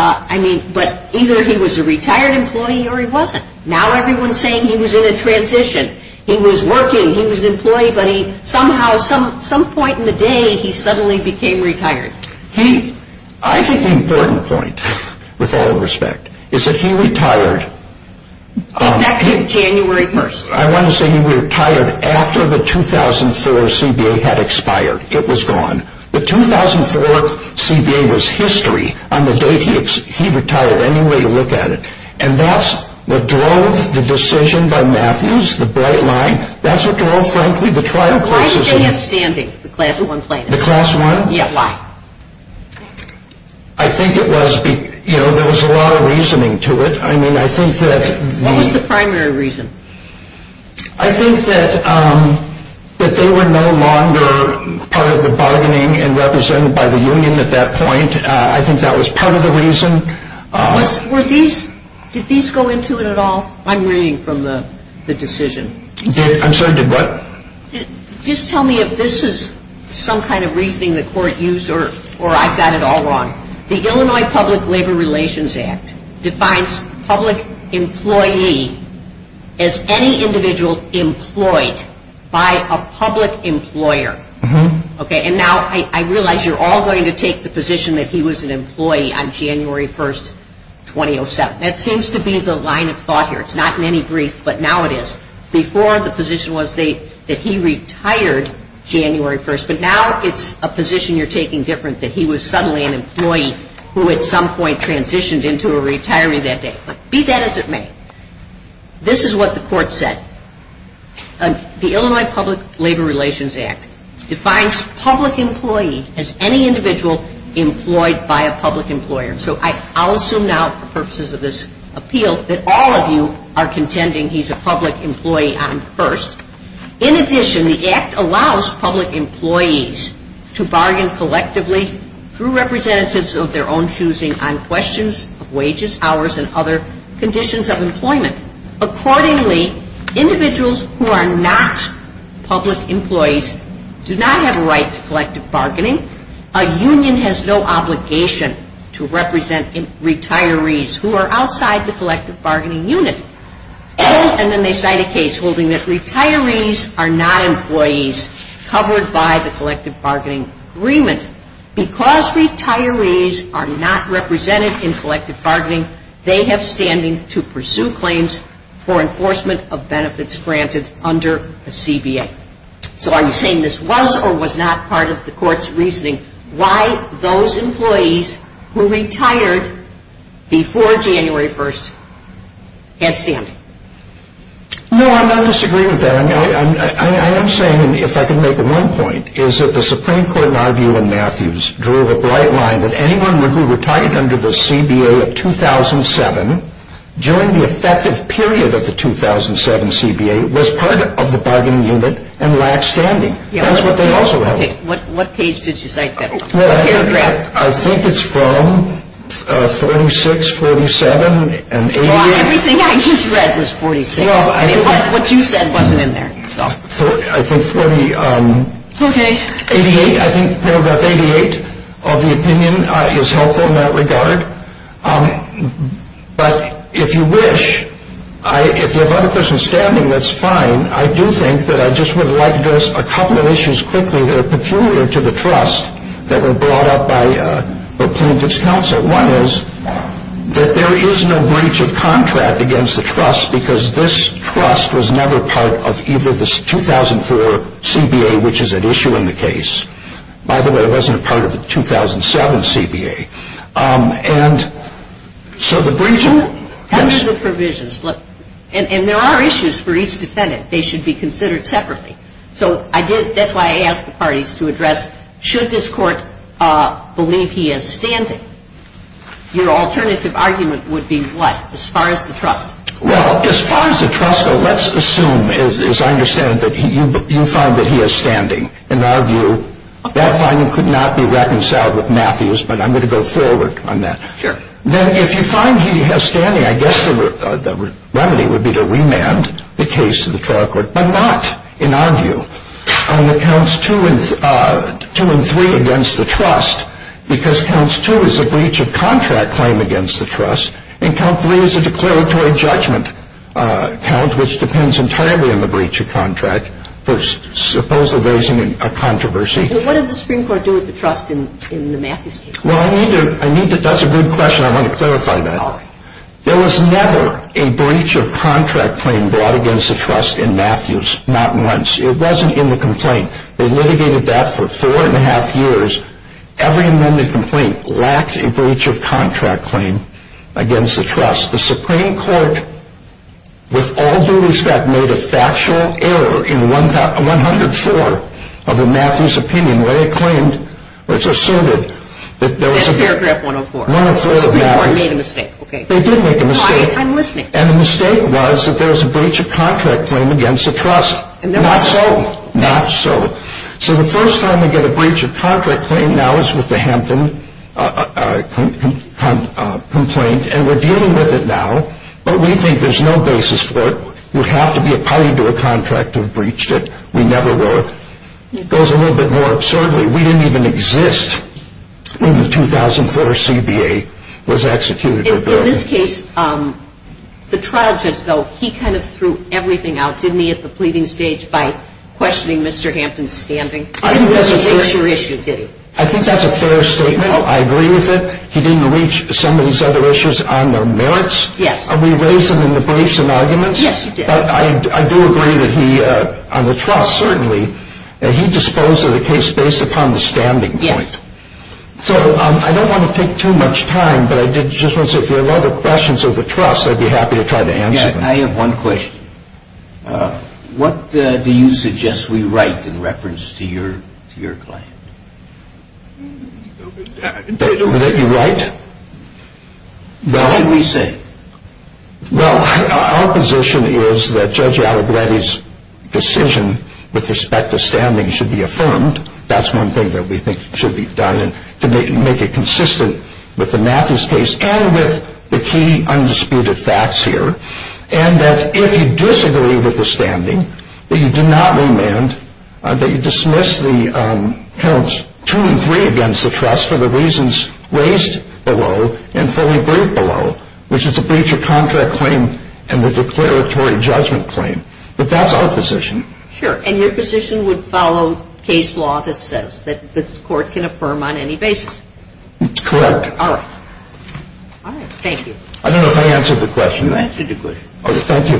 I mean, but either he was a retired employee or he wasn't. Now everyone's saying he was in a transition. He was working. He was an employee. But somehow, some point in the day, he suddenly became retired. I think the important point, with all respect, is that he retired. Back in January 1st. I want to say he retired after the 2004 CBA had expired. It was gone. The 2004 CBA was history on the day he retired. Any way you look at it. And that's what drove the decision by Matthews, the bright line. That's what drove, frankly, the trial process. Why did they have standing, the Class 1 plaintiffs? The Class 1? Yeah. Why? I think it was, you know, there was a lot of reasoning to it. I mean, I think that. What was the primary reason? I think that they were no longer part of the bargaining and represented by the union at that point. I think that was part of the reason. Did these go into it at all? I'm reading from the decision. I'm sorry, did what? Just tell me if this is some kind of reasoning the court used or I've got it all wrong. The Illinois Public Labor Relations Act defines public employee as any individual employed by a public employer. Okay, and now I realize you're all going to take the position that he was an employee on January 1st, 2007. That seems to be the line of thought here. It's not in any brief, but now it is. Before, the position was that he retired January 1st, but now it's a position you're taking different, that he was suddenly an employee who at some point transitioned into a retiree that day. Be that as it may, this is what the court said. The Illinois Public Labor Relations Act defines public employee as any individual employed by a public employer. So I'll assume now for purposes of this appeal that all of you are contending he's a public employee on 1st. In addition, the act allows public employees to bargain collectively through representatives of their own choosing on questions of wages, hours, and other conditions of employment. Accordingly, individuals who are not public employees do not have a right to collective bargaining. A union has no obligation to represent retirees who are outside the collective bargaining unit. Oh, and then they cite a case holding that retirees are not employees covered by the collective bargaining agreement. Because retirees are not represented in collective bargaining, they have standing to pursue claims for enforcement of benefits granted under the CBA. So are you saying this was or was not part of the court's reasoning why those employees who retired before January 1st had standing? No, I'm not disagreeing with that. I am saying, if I can make one point, is that the Supreme Court in our view in Matthews drew a bright line that anyone who retired under the CBA in 2007 during the effective period of the 2007 CBA was part of the bargaining unit and lacked standing. That's what they also have. What page did you think that was? I think it's from 46, 47, and 88. Everything I just read is 46. What you said wasn't in there. I think paragraph 88 of the opinion is helpful in that regard. But if you wish, if you have other persons standing, that's fine. I do think that I just would like to address a couple of issues quickly that are peculiar to the trust that were brought up by the plaintiffs' counsel. One is that there is no breach of contract against the trust because this trust was never part of either the 2004 CBA, which is at issue in the case. By the way, it wasn't part of the 2007 CBA. And so the breach of contract... How do the provisions look? And there are issues for each defendant. They should be considered separately. So that's why I asked the parties to address should this court believe he has standing. Your alternative argument would be what, as far as the trust? Well, as far as the trust, let's assume, as I understand it, that you find that he has standing. In our view, that argument could not be reconciled with Matthew's, but I'm going to go forward on that. Then if you find he has standing, I guess the remedy would be to remand the case to the fair court, but not, in our view. On the counts 2 and 3 against the trust, because counts 2 is a breach of contract claim against the trust, and count 3 is a declaratory judgment count, which depends entirely on the breach of contract, for supposedly raising a controversy. So what did the Supreme Court do with the trust in the Matthews case? Well, Anita, that's a good question. I want to clarify that. There was never a breach of contract claim brought against the trust in Matthews. Not once. It wasn't in the complaint. They litigated that for four and a half years. Every amended complaint lacked a breach of contract claim against the trust. The Supreme Court, with all the rulings that made a factual error in 104 of the Matthews opinion, where they claimed, or assumed, that there was a breach of contract claim against the trust, Not so. Not so. So the first time we get a breach of contract claim now is with the Hampton complaint, and we're dealing with it now, but we think there's no basis for it. It would have to be a party to a contract to have breached it. We never were. It goes a little bit more absurdly. We didn't even exist when the 2004 CBA was executed. In this case, the trial said so. He kind of threw everything out, didn't he, at the pleading stage by questioning Mr. Hampton's standing? I think that's a fair statement. I agree with it. He didn't reach some of these other issues on their merits. We raised them in the briefs and arguments. Yes, you did. I do agree that he, on the trust certainly, that he disposed of the case based upon the standing point. Yes. So I don't want to take too much time, but I did just want to say, Yes, I have one question. What do you suggest we write in reference to your claim? That you write? No. What do we say? Well, our position is that Judge Alibratti's decision with respect to standing should be affirmed. That's one thing that we think should be done to make it consistent with the Nathie's case and with the key undisputed facts here. And that if you disagree with the standing, that you do not remand, that you dismiss the terms 2 and 3 against the trust for the reasons raised below and fully briefed below, which is the breach of contract claim and the declaratory judgment claim. But that's our position. Sure. And your position would follow case law that says that this court can affirm on any basis? Correct. All right. Thank you. I don't know if I answered the question. You answered it good. Oh, thank you.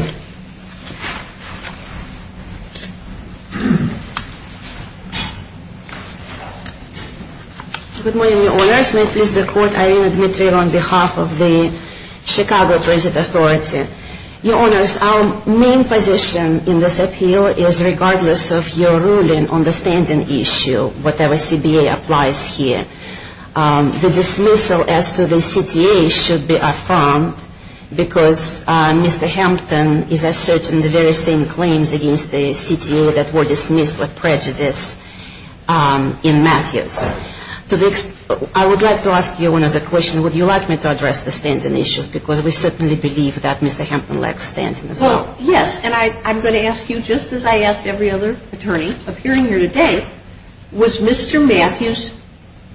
Good morning, Your Honors. This is the Court Irene Butler on behalf of the Chicago Prison Authority. Your Honors, our main position in this appeal is regardless of your ruling on the standing issue, whatever CBA applies here, the dismissal as to the CTA should be affirmed because Mr. Hampton is asserting the very same claims against the CTA that were dismissed with prejudice in Matthews. I would like to ask you one other question. Would you like me to address the standing issues? Because we certainly believe that Mr. Hampton lacks standing. Yes, and I'm going to ask you just as I ask every other attorney appearing here today, was Mr. Matthews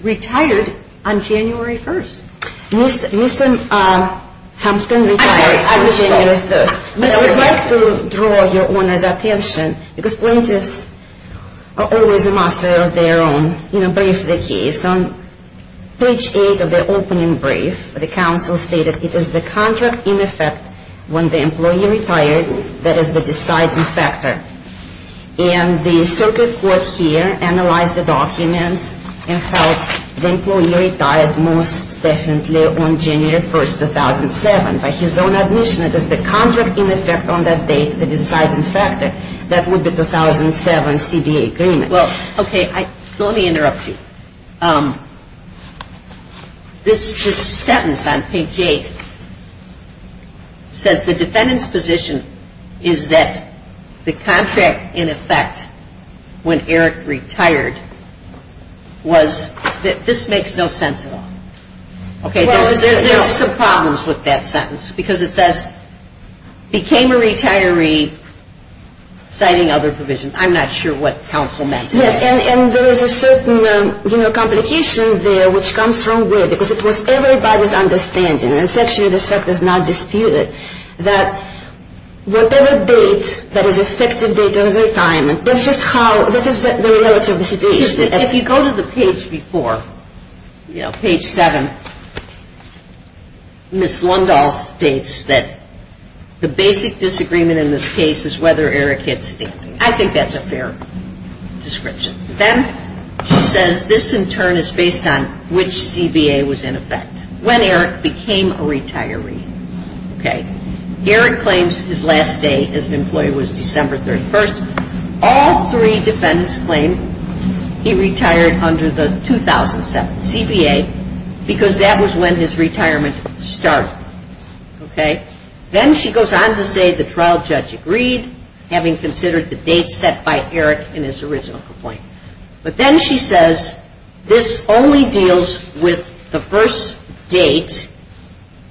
retired on January 1st? Mr. Hampton retired on January 1st. I would like to draw Your Honor's attention because plaintiffs are always the master of their own. In the brief of the case, on page 8 of the opening brief, the counsel stated, it is the contract in effect when the employee retires that is the deciding factor. And the circuit court here analyzed the document and found the employee retired most definitely on January 1st, 2007. By his own admission, it is the contract in effect on that date, the deciding factor. That would be 2007 CBA agreement. Well, okay, let me interrupt you. This sentence on page 8 says the defendant's position is that the contract in effect when Eric retired was, this makes no sense at all. There are problems with that sentence because it says became a retiree citing other provisions. I'm not sure what counsel meant. Yes, and there is a certain, you know, complication there which comes from where, because it's what everybody's understanding, and it's actually the set that's not disputed, that whatever date that is expected date of retirement, that's just how, that is the relative situation. If you go to the page before, you know, page 7, Ms. Lundahl states that the basic disagreement in this case is whether Eric gets a date. I think that's a fair description. Then she says this in turn is based on which CBA was in effect, when Eric became a retiree. Eric claims his last day as an employee was December 31st. All three defendants claim he retired under the 2007 CBA because that was when his retirement started. Then she goes on to say the trial judge agreed, having considered the date set by Eric in his original complaint. But then she says this only deals with the first date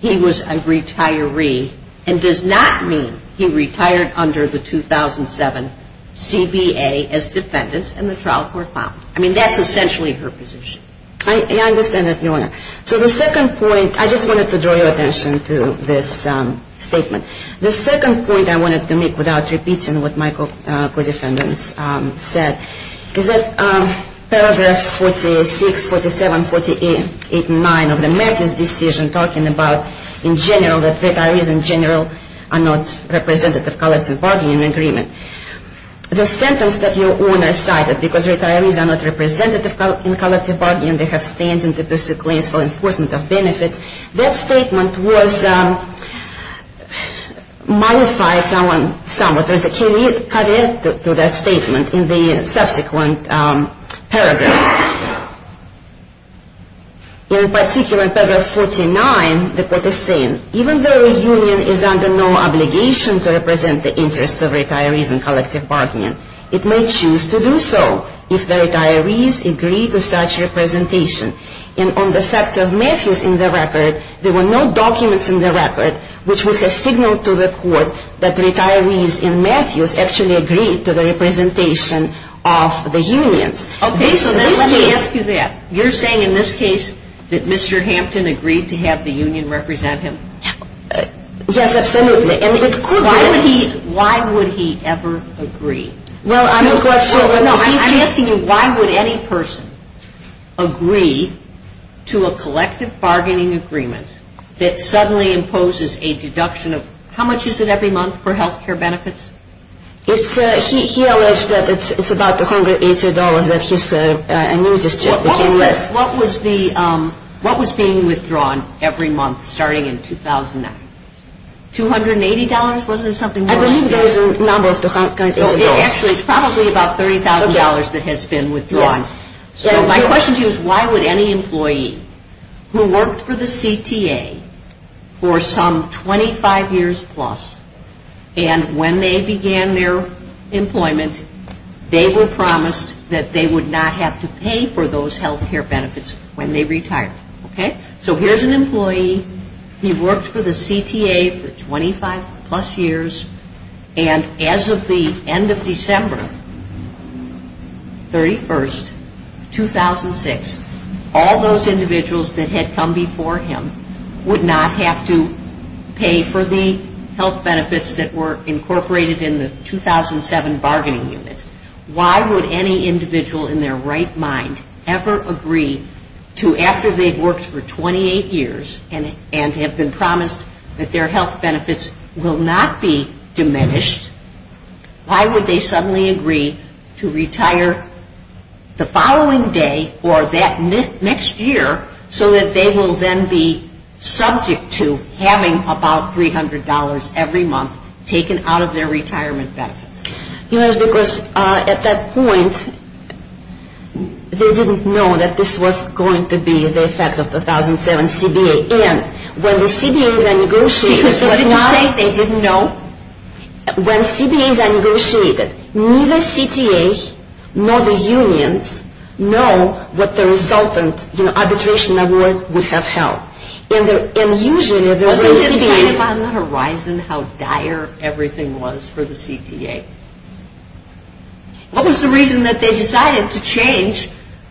he was a retiree and does not mean he retired under the 2007 CBA as defendant in the trial court file. I mean, that's essentially her position. I understand that, Your Honor. So the second point, I just wanted to draw your attention to this statement. The second point I wanted to make without repeating what my co-defendants said, is that Paragraph 46, 47, 48, 8, and 9 of the Macon decision talking about, in general, that retirees in general are not representatives of collective bargaining agreement. The sentence that Your Honor cited, because retirees are not representative in collective bargaining and they have stand-ins if there's a claim for enforcement of benefits, that statement was modified somewhat. Can you cut in to that statement in the subsequent paragraph? In particular, Paragraph 49, the court is saying, even though a union is under no obligation to represent the interests of retirees in collective bargaining, it may choose to do so if the retirees agree to such representation. And on the sector of Matthews in the record, there were no documents in the record which would have signaled to the court that retirees in Matthews actually agreed to the representation of the union. Okay, so let me ask you that. You're saying in this case that Mr. Hampton agreed to have the union represent him? Yes. Why would he ever agree? I'm asking you, why would any person agree to a collective bargaining agreement that suddenly imposes a deduction of, how much is it every month for health care benefits? It's about $180. What was being withdrawn every month starting in 2009? $280? I believe there was a number. It's probably about $30,000 that has been withdrawn. So my question to you is, why would any employee who worked for the CTA for some 25 years plus and when they began their employment, they were promised that they would not have to pay for those health care benefits when they retired, okay? So here's an employee. He worked for the CTA for 25 plus years, and as of the end of December 31, 2006, all those individuals that had come before him would not have to pay for the health benefits that were incorporated in the 2007 bargaining unit. Why would any individual in their right mind ever agree to, after they've worked for 28 years and have been promised that their health benefits will not be diminished, why would they suddenly agree to retire the following day or that next year so that they will then be subject to having about $300 every month taken out of their retirement benefit? Because at that point, they didn't know that this was going to be, as I said, the 2007 CBA. Because they didn't know? When CBA negotiated, neither CTAs nor the unions know what the resultant, you know, arbitration level would have held. And usually, there would be... But isn't it on the horizon how dire everything was for the CTA? What was the reason that they decided to change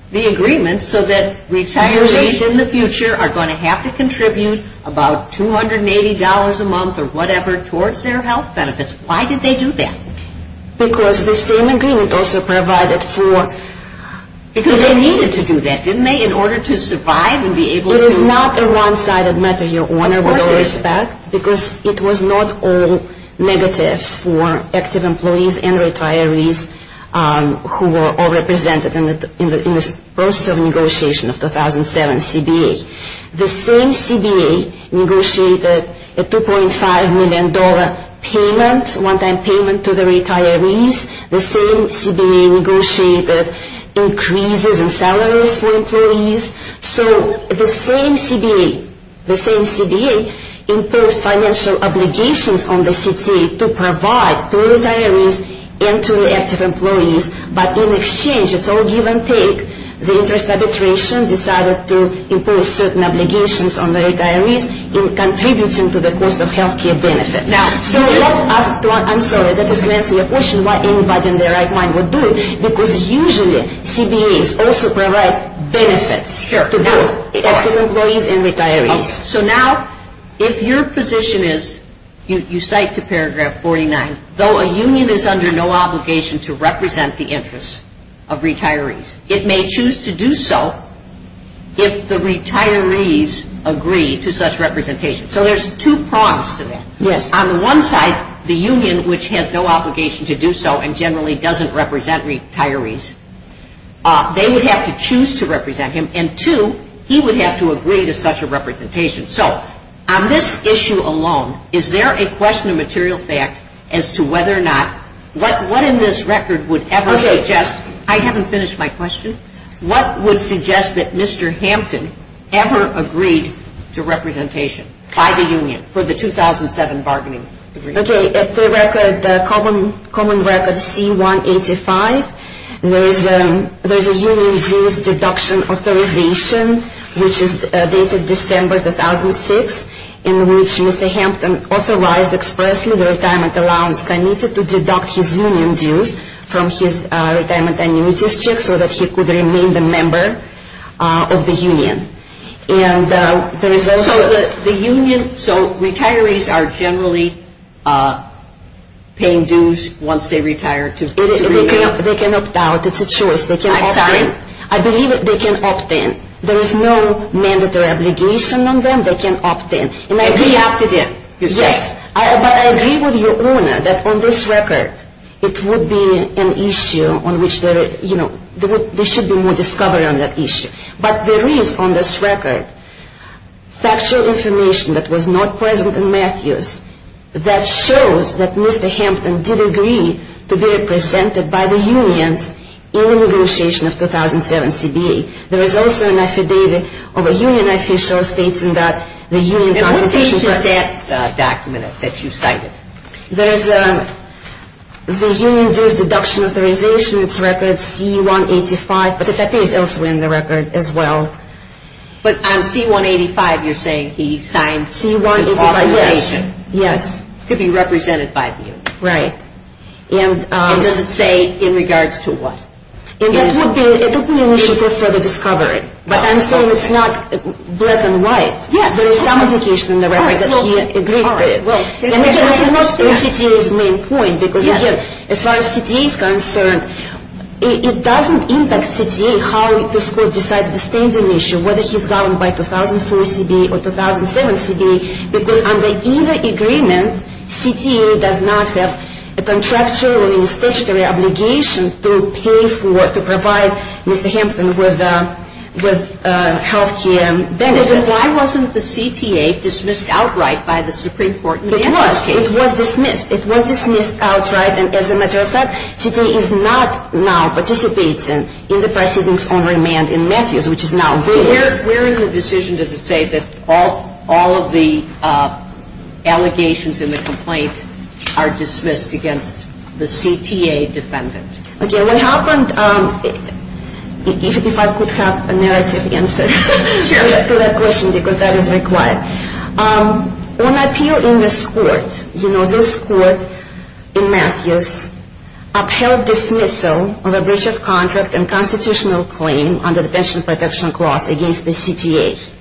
the agreement so that retirees in the future are going to have to contribute about $280 a month or whatever towards their health benefits? Why did they do that? Because the same agreement also provided for... Because they needed to do that, didn't they, in order to survive and be able to... It was not the one-sided method. Your Honor, with all respect, because it was not all negative for active employees and retirees who were all represented in the process of negotiation of 2007 CBA. The same CBA negotiated a $2.5 million payment, one-time payment to the retirees. The same CBA negotiated increases in salaries for employees. So the same CBA imposed financial obligations on the CTA to provide to retirees and to the active employees. But in exchange, it's all give and take. The interest arbitration decided to impose certain obligations on the retirees in contributing to the cost of health care benefits. Now, I'm sorry. That was meant to question why anybody in their right mind would do it. Because usually, CBAs also provide benefits to the active employees and retirees. So now, if your position is, you cite to paragraph 49, though a union is under no obligation to represent the interests of retirees, it may choose to do so if the retirees agree to such representation. So there's two problems to that. On the one side, the union, which has no obligation to do so and generally doesn't represent retirees, they would have to choose to represent him. And two, he would have to agree to such a representation. So on this issue alone, is there a question of material fact as to whether or not, what in this record would ever suggest- Okay, I haven't finished my question. What would suggest that Mr. Hampton ever agreed to representation by the union for the 2007 bargaining agreement? Okay, the common record C185, where the union gives deduction authorization, which is dated December 2006, in which Mr. Hampton authorized expressly the retirement allowance and needed to deduct his union dues from his retirement annuity check so that he could remain a member of the union. So retirees are generally paying dues once they retire? They can opt out. It's a choice. I believe they can opt in. There is no mandatory obligation on them. They can opt in. Am I being asked again? Yes, but I agree with your owner that on this record, it would be an issue on which there should be more discovery on that issue. But there is on this record factual information that was not present in Matthews that shows that Mr. Hampton did agree to be represented by the union in the negotiation of 2007 CBA. There is also an affidavit of a union official stating that the union- And what is that document that you cited? The union gives deduction authorization. It's record C185. But that is also in the record as well. But on C185, you're saying he signed C185- Yes. To be represented by the union. Right. And does it say in regards to what? And that would be an issue for further discovery. But I'm saying it's not black and white. Yeah. There is some indication in the record that he agreed to it. Right. And that's not CTA's main point because as far as CTA is concerned, it doesn't impact CTA how this court decides the standing issue, whether he's governed by 2004 CBA or 2007 CBA, because under either agreement, CTA does not have a contractual or statutory obligation to pay for, to provide Mr. Hampton with health care benefits. But why wasn't the CTA dismissed outright by the Supreme Court? It was. It was dismissed. It was dismissed outright, and as a matter of fact, CTA is not now participating in the proceedings on demand in Matthews, which is now real. Where is the decision to say that all of the allegations in the complaint are dismissed against the CTA defendant? Okay. What happened, if I could have a narrative answer to that question, because that is required. On appeal in this court, you know, this court in Matthews upheld dismissal of a breach of contract and constitutional claim under the Detention and Protection Clause against the CTA,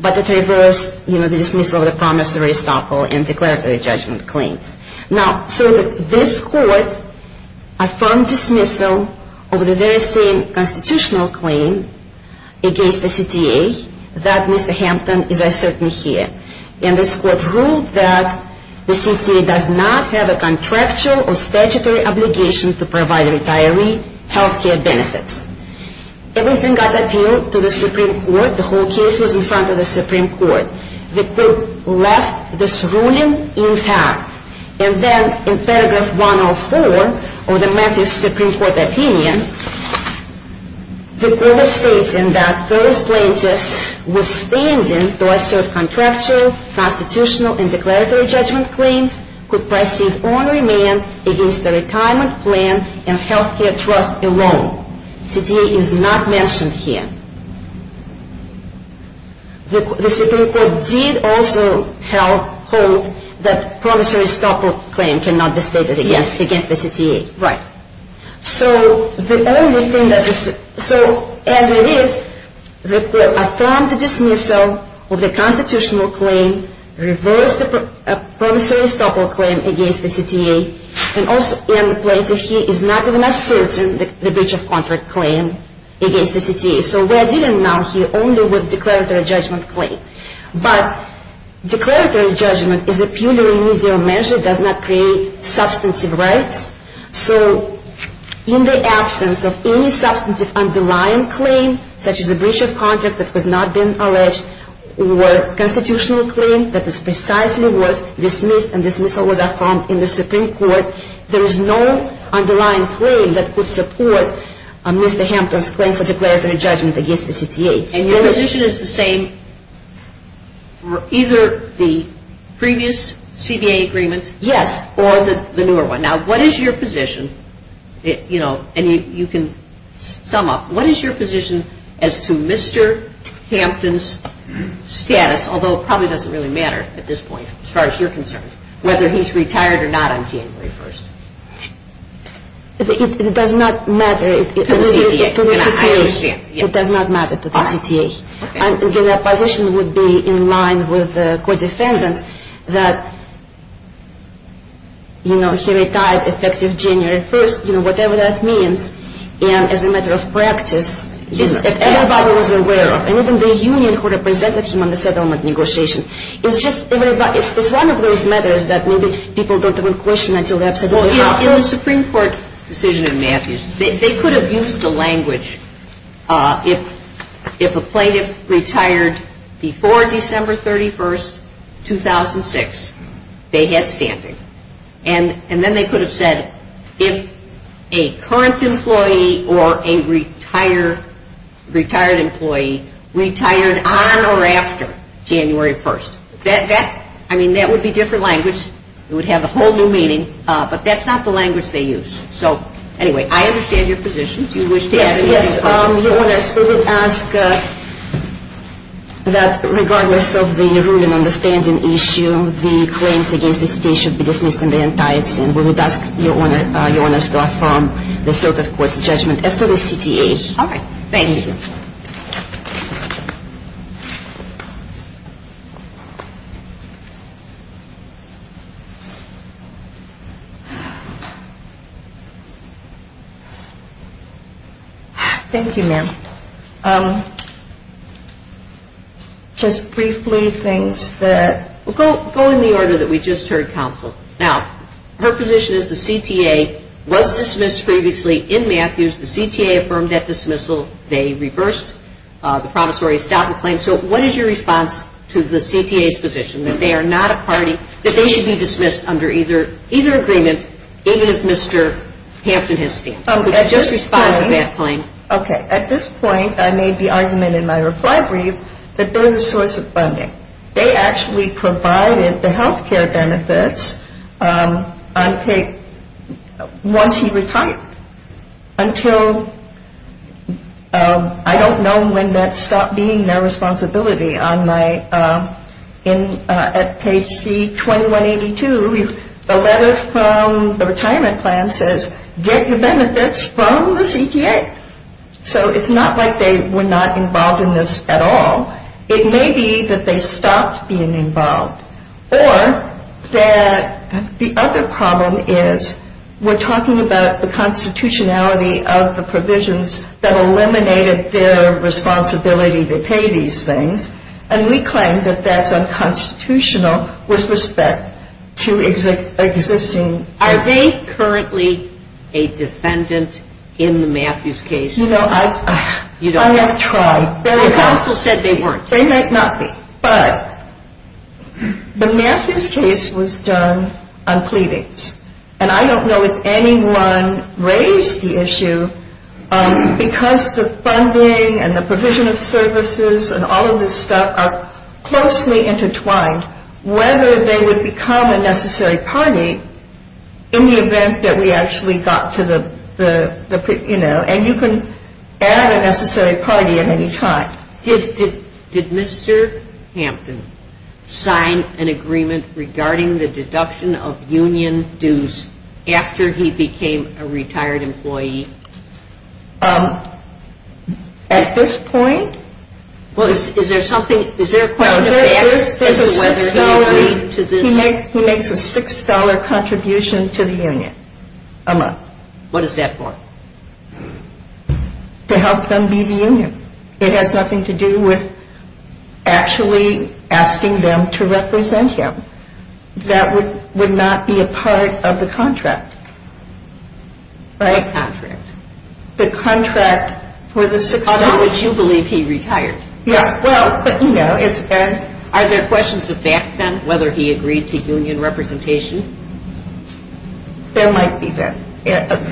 but it reversed, you know, the dismissal of the promissory stock or in declaratory judgment claim. Now, so this court affirmed dismissal of the very same constitutional claim against the CTA that Mr. Hampton is a certain here, and this court ruled that the CTA does not have a contractual or statutory obligation to provide a retiree health care benefit. Everything got appealed to the Supreme Court. The whole case was in front of the Supreme Court. The court left this ruling intact, and then in paragraph 104 of the Matthews Supreme Court opinion, the court stated that those plaintiffs withstanding the rest of the contractual, constitutional, and declaratory judgment claims could proceed on remand against the retirement plan and health care trust alone. The CTA is not mentioned here. The Supreme Court did also tell the court that the promissory stock claim cannot be stated against the CTA. Right. So, the only thing that this... So, as it is, the court affirmed the dismissal of the constitutional claim, reversed the promissory stock claim against the CTA, and also in the plaintiff here is not even asserting the breach of contract claim against the CTA. So we are dealing now here only with declaratory judgment claim. But declaratory judgment is a purely remedial measure, does not create substantive rights. So, in the absence of any substantive underlying claim, such as a breach of contract that has not been alleged, or constitutional claim that is precisely what dismissed and dismissal would affirm in the Supreme Court, there is no underlying claim that would support Mr. Hampton's claim for declaratory judgment against the CTA. And your position is the same for either the previous CTA agreement? Yes, or the newer one. Now, what is your position, you know, and you can sum up, what is your position as to Mr. Hampton's status, although it probably doesn't really matter at this point, as far as you're concerned, whether he's retired or not on January 1st? It does not matter. To the CTA, I understand. It does not matter to the CTA. Again, my position would be in line with the court defendant, that, you know, he retired effective January 1st, you know, whatever that means, and as a matter of practice, that everybody was aware of, and even the union who represented him on the settlement negotiation. It's just, everybody, it's one of those matters that maybe people don't even question until they're presented in the Supreme Court. They could have used the language, if a plaintiff retired before December 31st, 2006, they had stamping. And then they could have said, if a current employee or a retired employee retired on or after January 1st. I mean, that would be different language. It would have a whole new meaning. But that's not the language they use. So, anyway, I understand your position. Do you wish to add anything? Yes, yes. We would ask that regardless of the rule of understanding issue, the claims against the CTA should be dismissed from the entirety and we would ask your Honor to draw from the Circus Court's judgment as to the CTAs. All right. Thank you. Thank you, ma'am. Just briefly, things that... Go in the order that we just heard counsel. Now, her position is the CTA was dismissed previously in Matthews. The CTA affirmed that dismissal. They reversed the promissory statement claim. So what is your response to the CTA's position that they are not a party, that they should be dismissed under either agreement, even if Mr. Hansen has seen it? Just respond to that point. Okay. At this point, I made the argument in my reply brief that they're the source of funding. They actually provided the health care benefits once he retired, until I don't know when that stopped being their responsibility. At page C2182, the letter from the retirement plan says get the benefits from the CTA. So it's not like they were not involved in this at all. It may be that they stopped being involved. Or that the other problem is we're talking about the constitutionality of the provisions that eliminated their responsibility to pay these things, and we claim that that's unconstitutional with respect to existing... Are they currently a defendant in the Matthews case? You know, I'm not trying. The counsel said they weren't. They might not be. But the Matthews case was done on pleadings, and I don't know if anyone raised the issue because the funding and the provision of services and all of this stuff are closely intertwined, whether they would become a necessary party in the event that we actually got to the, you know, and you can add a necessary party at any time. Did Mr. Hampton sign an agreement regarding the deduction of union dues after he became a retired employee? At this point? Well, is there something... He makes a $6 contribution to the union a month. What is that for? To help them be the union. It has nothing to do with actually asking them to represent him. That would not be a part of the contract. Right? That's right. The contract for the $6... Unless you believe he retired. Yeah, well, but, you know, it's... Are there questions of the extent, whether he agreed to union representation? There might be, yes.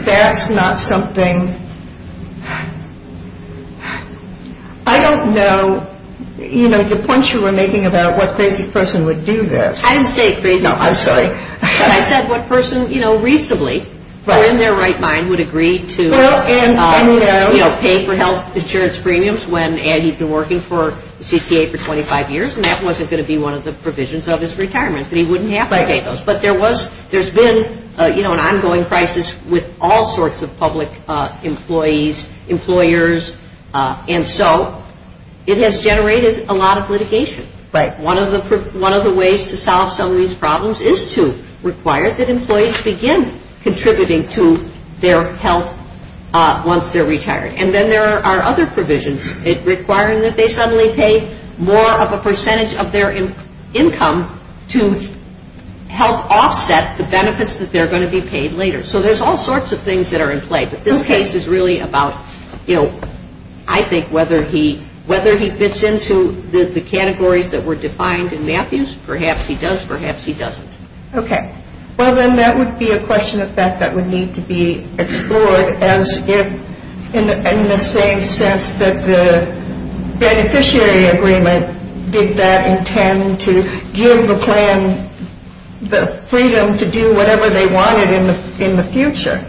That's not something... I don't know, you know, the point you were making about what person would do this. I didn't say... No, I'm sorry. I said what person, you know, reasonably, in their right mind, would agree to, you know, pay for health insurance premiums when he's been working for CCA for 25 years, and that wasn't going to be one of the provisions of his retirement. He wouldn't have to pay those. But there was... There's been, you know, an ongoing crisis with all sorts of public employees, employers, and so it has generated a lot of litigation. Right. One of the ways to solve some of these problems is to require that employees begin contributing to their health once they're retired. And then there are other provisions requiring that they suddenly pay more of a percentage of their income to help offset the benefits that they're going to be paid later. So there's all sorts of things that are in play. But this case is really about, you know, I think whether he fits into the categories that were defined in Matthews. Perhaps he does, perhaps he doesn't. Okay. Well, then that would be a question of fact that would need to be explored as if, in the same sense that the beneficiary agreement did not intend to give the plan the freedom to do whatever they wanted in the future.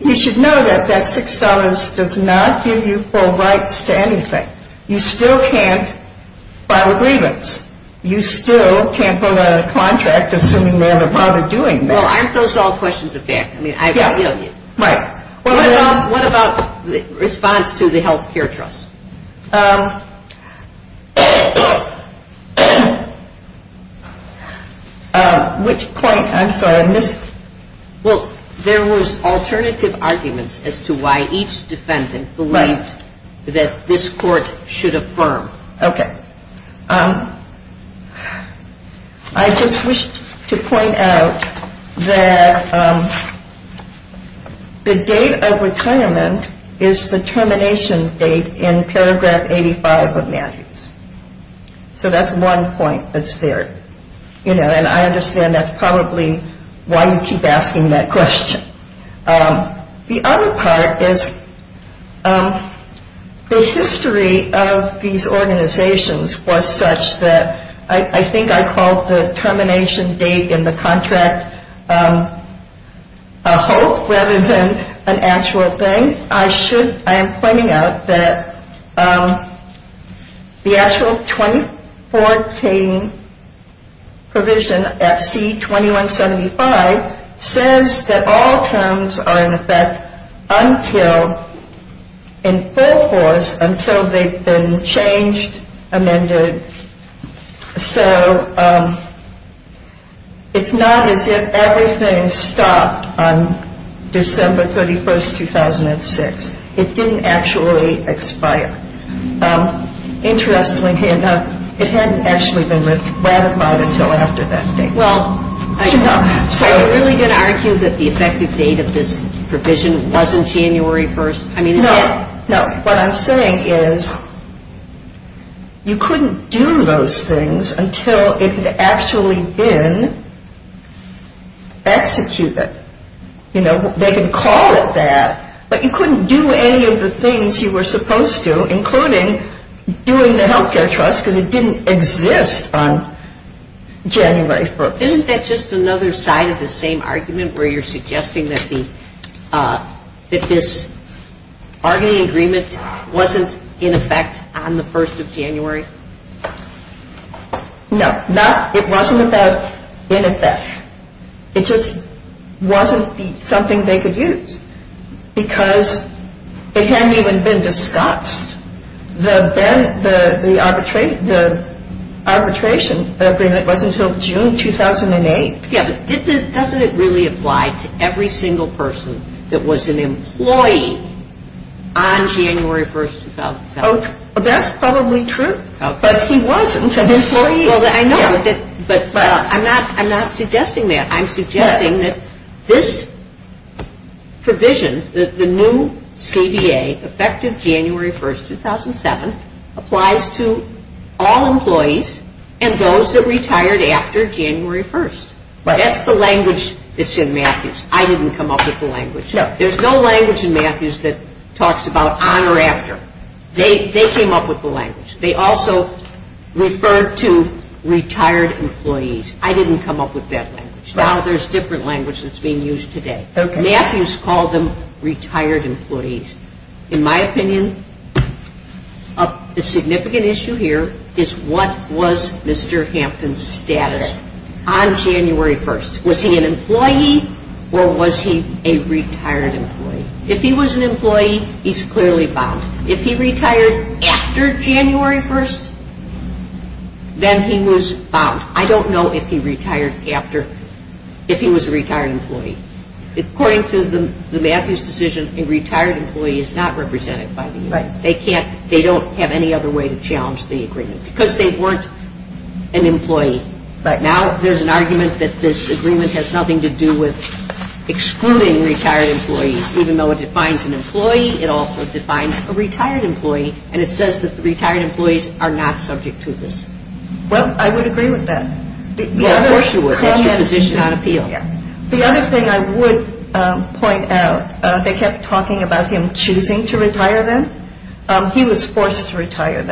You should know that that $6 does not give you full rights to anything. You still can't file a grievance. You still can't pull out a contract assuming they have a problem doing that. Well, I'm still solving questions of fact. I mean, I agree with you. Right. What about the response to the health care trust? Which point? I'm sorry, I missed it. Well, there was alternative arguments as to why each defendant believed that this court should affirm. Okay. I just wish to point out that the date of retirement is the termination date in paragraph 85 of Matthews. So that's one point that's there. You know, and I understand that's probably why you keep asking that question. The other part is the history of these organizations was such that I think I called the termination date in the contract a hoax rather than an actual thing. I am pointing out that the actual 2014 provision at C2175 says that all terms are, in effect, until in full force until they've been changed, amended. So it's not as if everything stopped on December 31, 2006. It didn't actually expire. Interestingly, it hadn't actually been ratified until after that date. Well, I know. So are we going to argue that the effective date of this provision wasn't January 1? No. No. What I'm saying is you couldn't do those things until it had actually been executed. You know, they could call it that, but you couldn't do any of the things you were supposed to, including doing the health care trust because it didn't exist on January 1. Isn't that just another side of the same argument where you're suggesting that this bargaining agreement wasn't in effect on the 1st of January? No. It wasn't in effect. It just wasn't something they could use because it hadn't even been discussed. The arbitration agreement wasn't until June 2008. Yeah, but doesn't it really apply to every single person that was an employee on January 1, 2007? That's probably true. But he wasn't an employee. I know, but I'm not suggesting that. I'm suggesting that this provision, the new CDA, effective January 1, 2007, applies to all employees and those that retired after January 1. That's the language that's in Matthews. I didn't come up with the language. There's no language in Matthews that talks about on or after. They came up with the language. They also referred to retired employees. I didn't come up with that language. Now there's different language that's being used today. Matthews called them retired employees. In my opinion, the significant issue here is what was Mr. Hampton's status on January 1? Was he an employee or was he a retired employee? If he was an employee, he's clearly bound. If he retired after January 1, then he was bound. I don't know if he retired after, if he was a retired employee. According to the Matthews decision, a retired employee is not represented by the union. They don't have any other way to challenge the agreement because they weren't an employee. Now there's an argument that this agreement has nothing to do with excluding retired employees. Even though it defines an employee, it also defines a retired employee, and it says that the retired employees are not subject to this. Well, I would agree with that. Of course you would. That's your position. The other thing I would point out, they kept talking about him choosing to retire them. He was forced to retire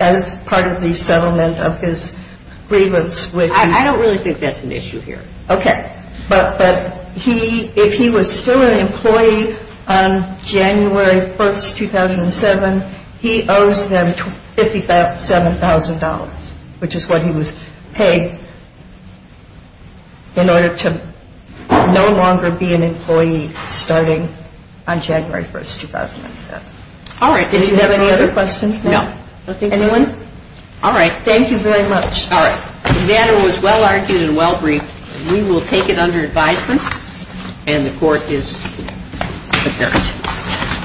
as part of the settlement of his grievance. I don't really think that's an issue here. Okay. But if he was still an employee on January 1, 2007, he owes them $57,000, which is what he was paid in order to no longer be an employee starting on January 1, 2007. All right. Did you have any other questions? No. Anyone? All right. Thank you very much. All right. The matter was well-argued and well-briefed. We will take it under advisement, and the court is adjourned.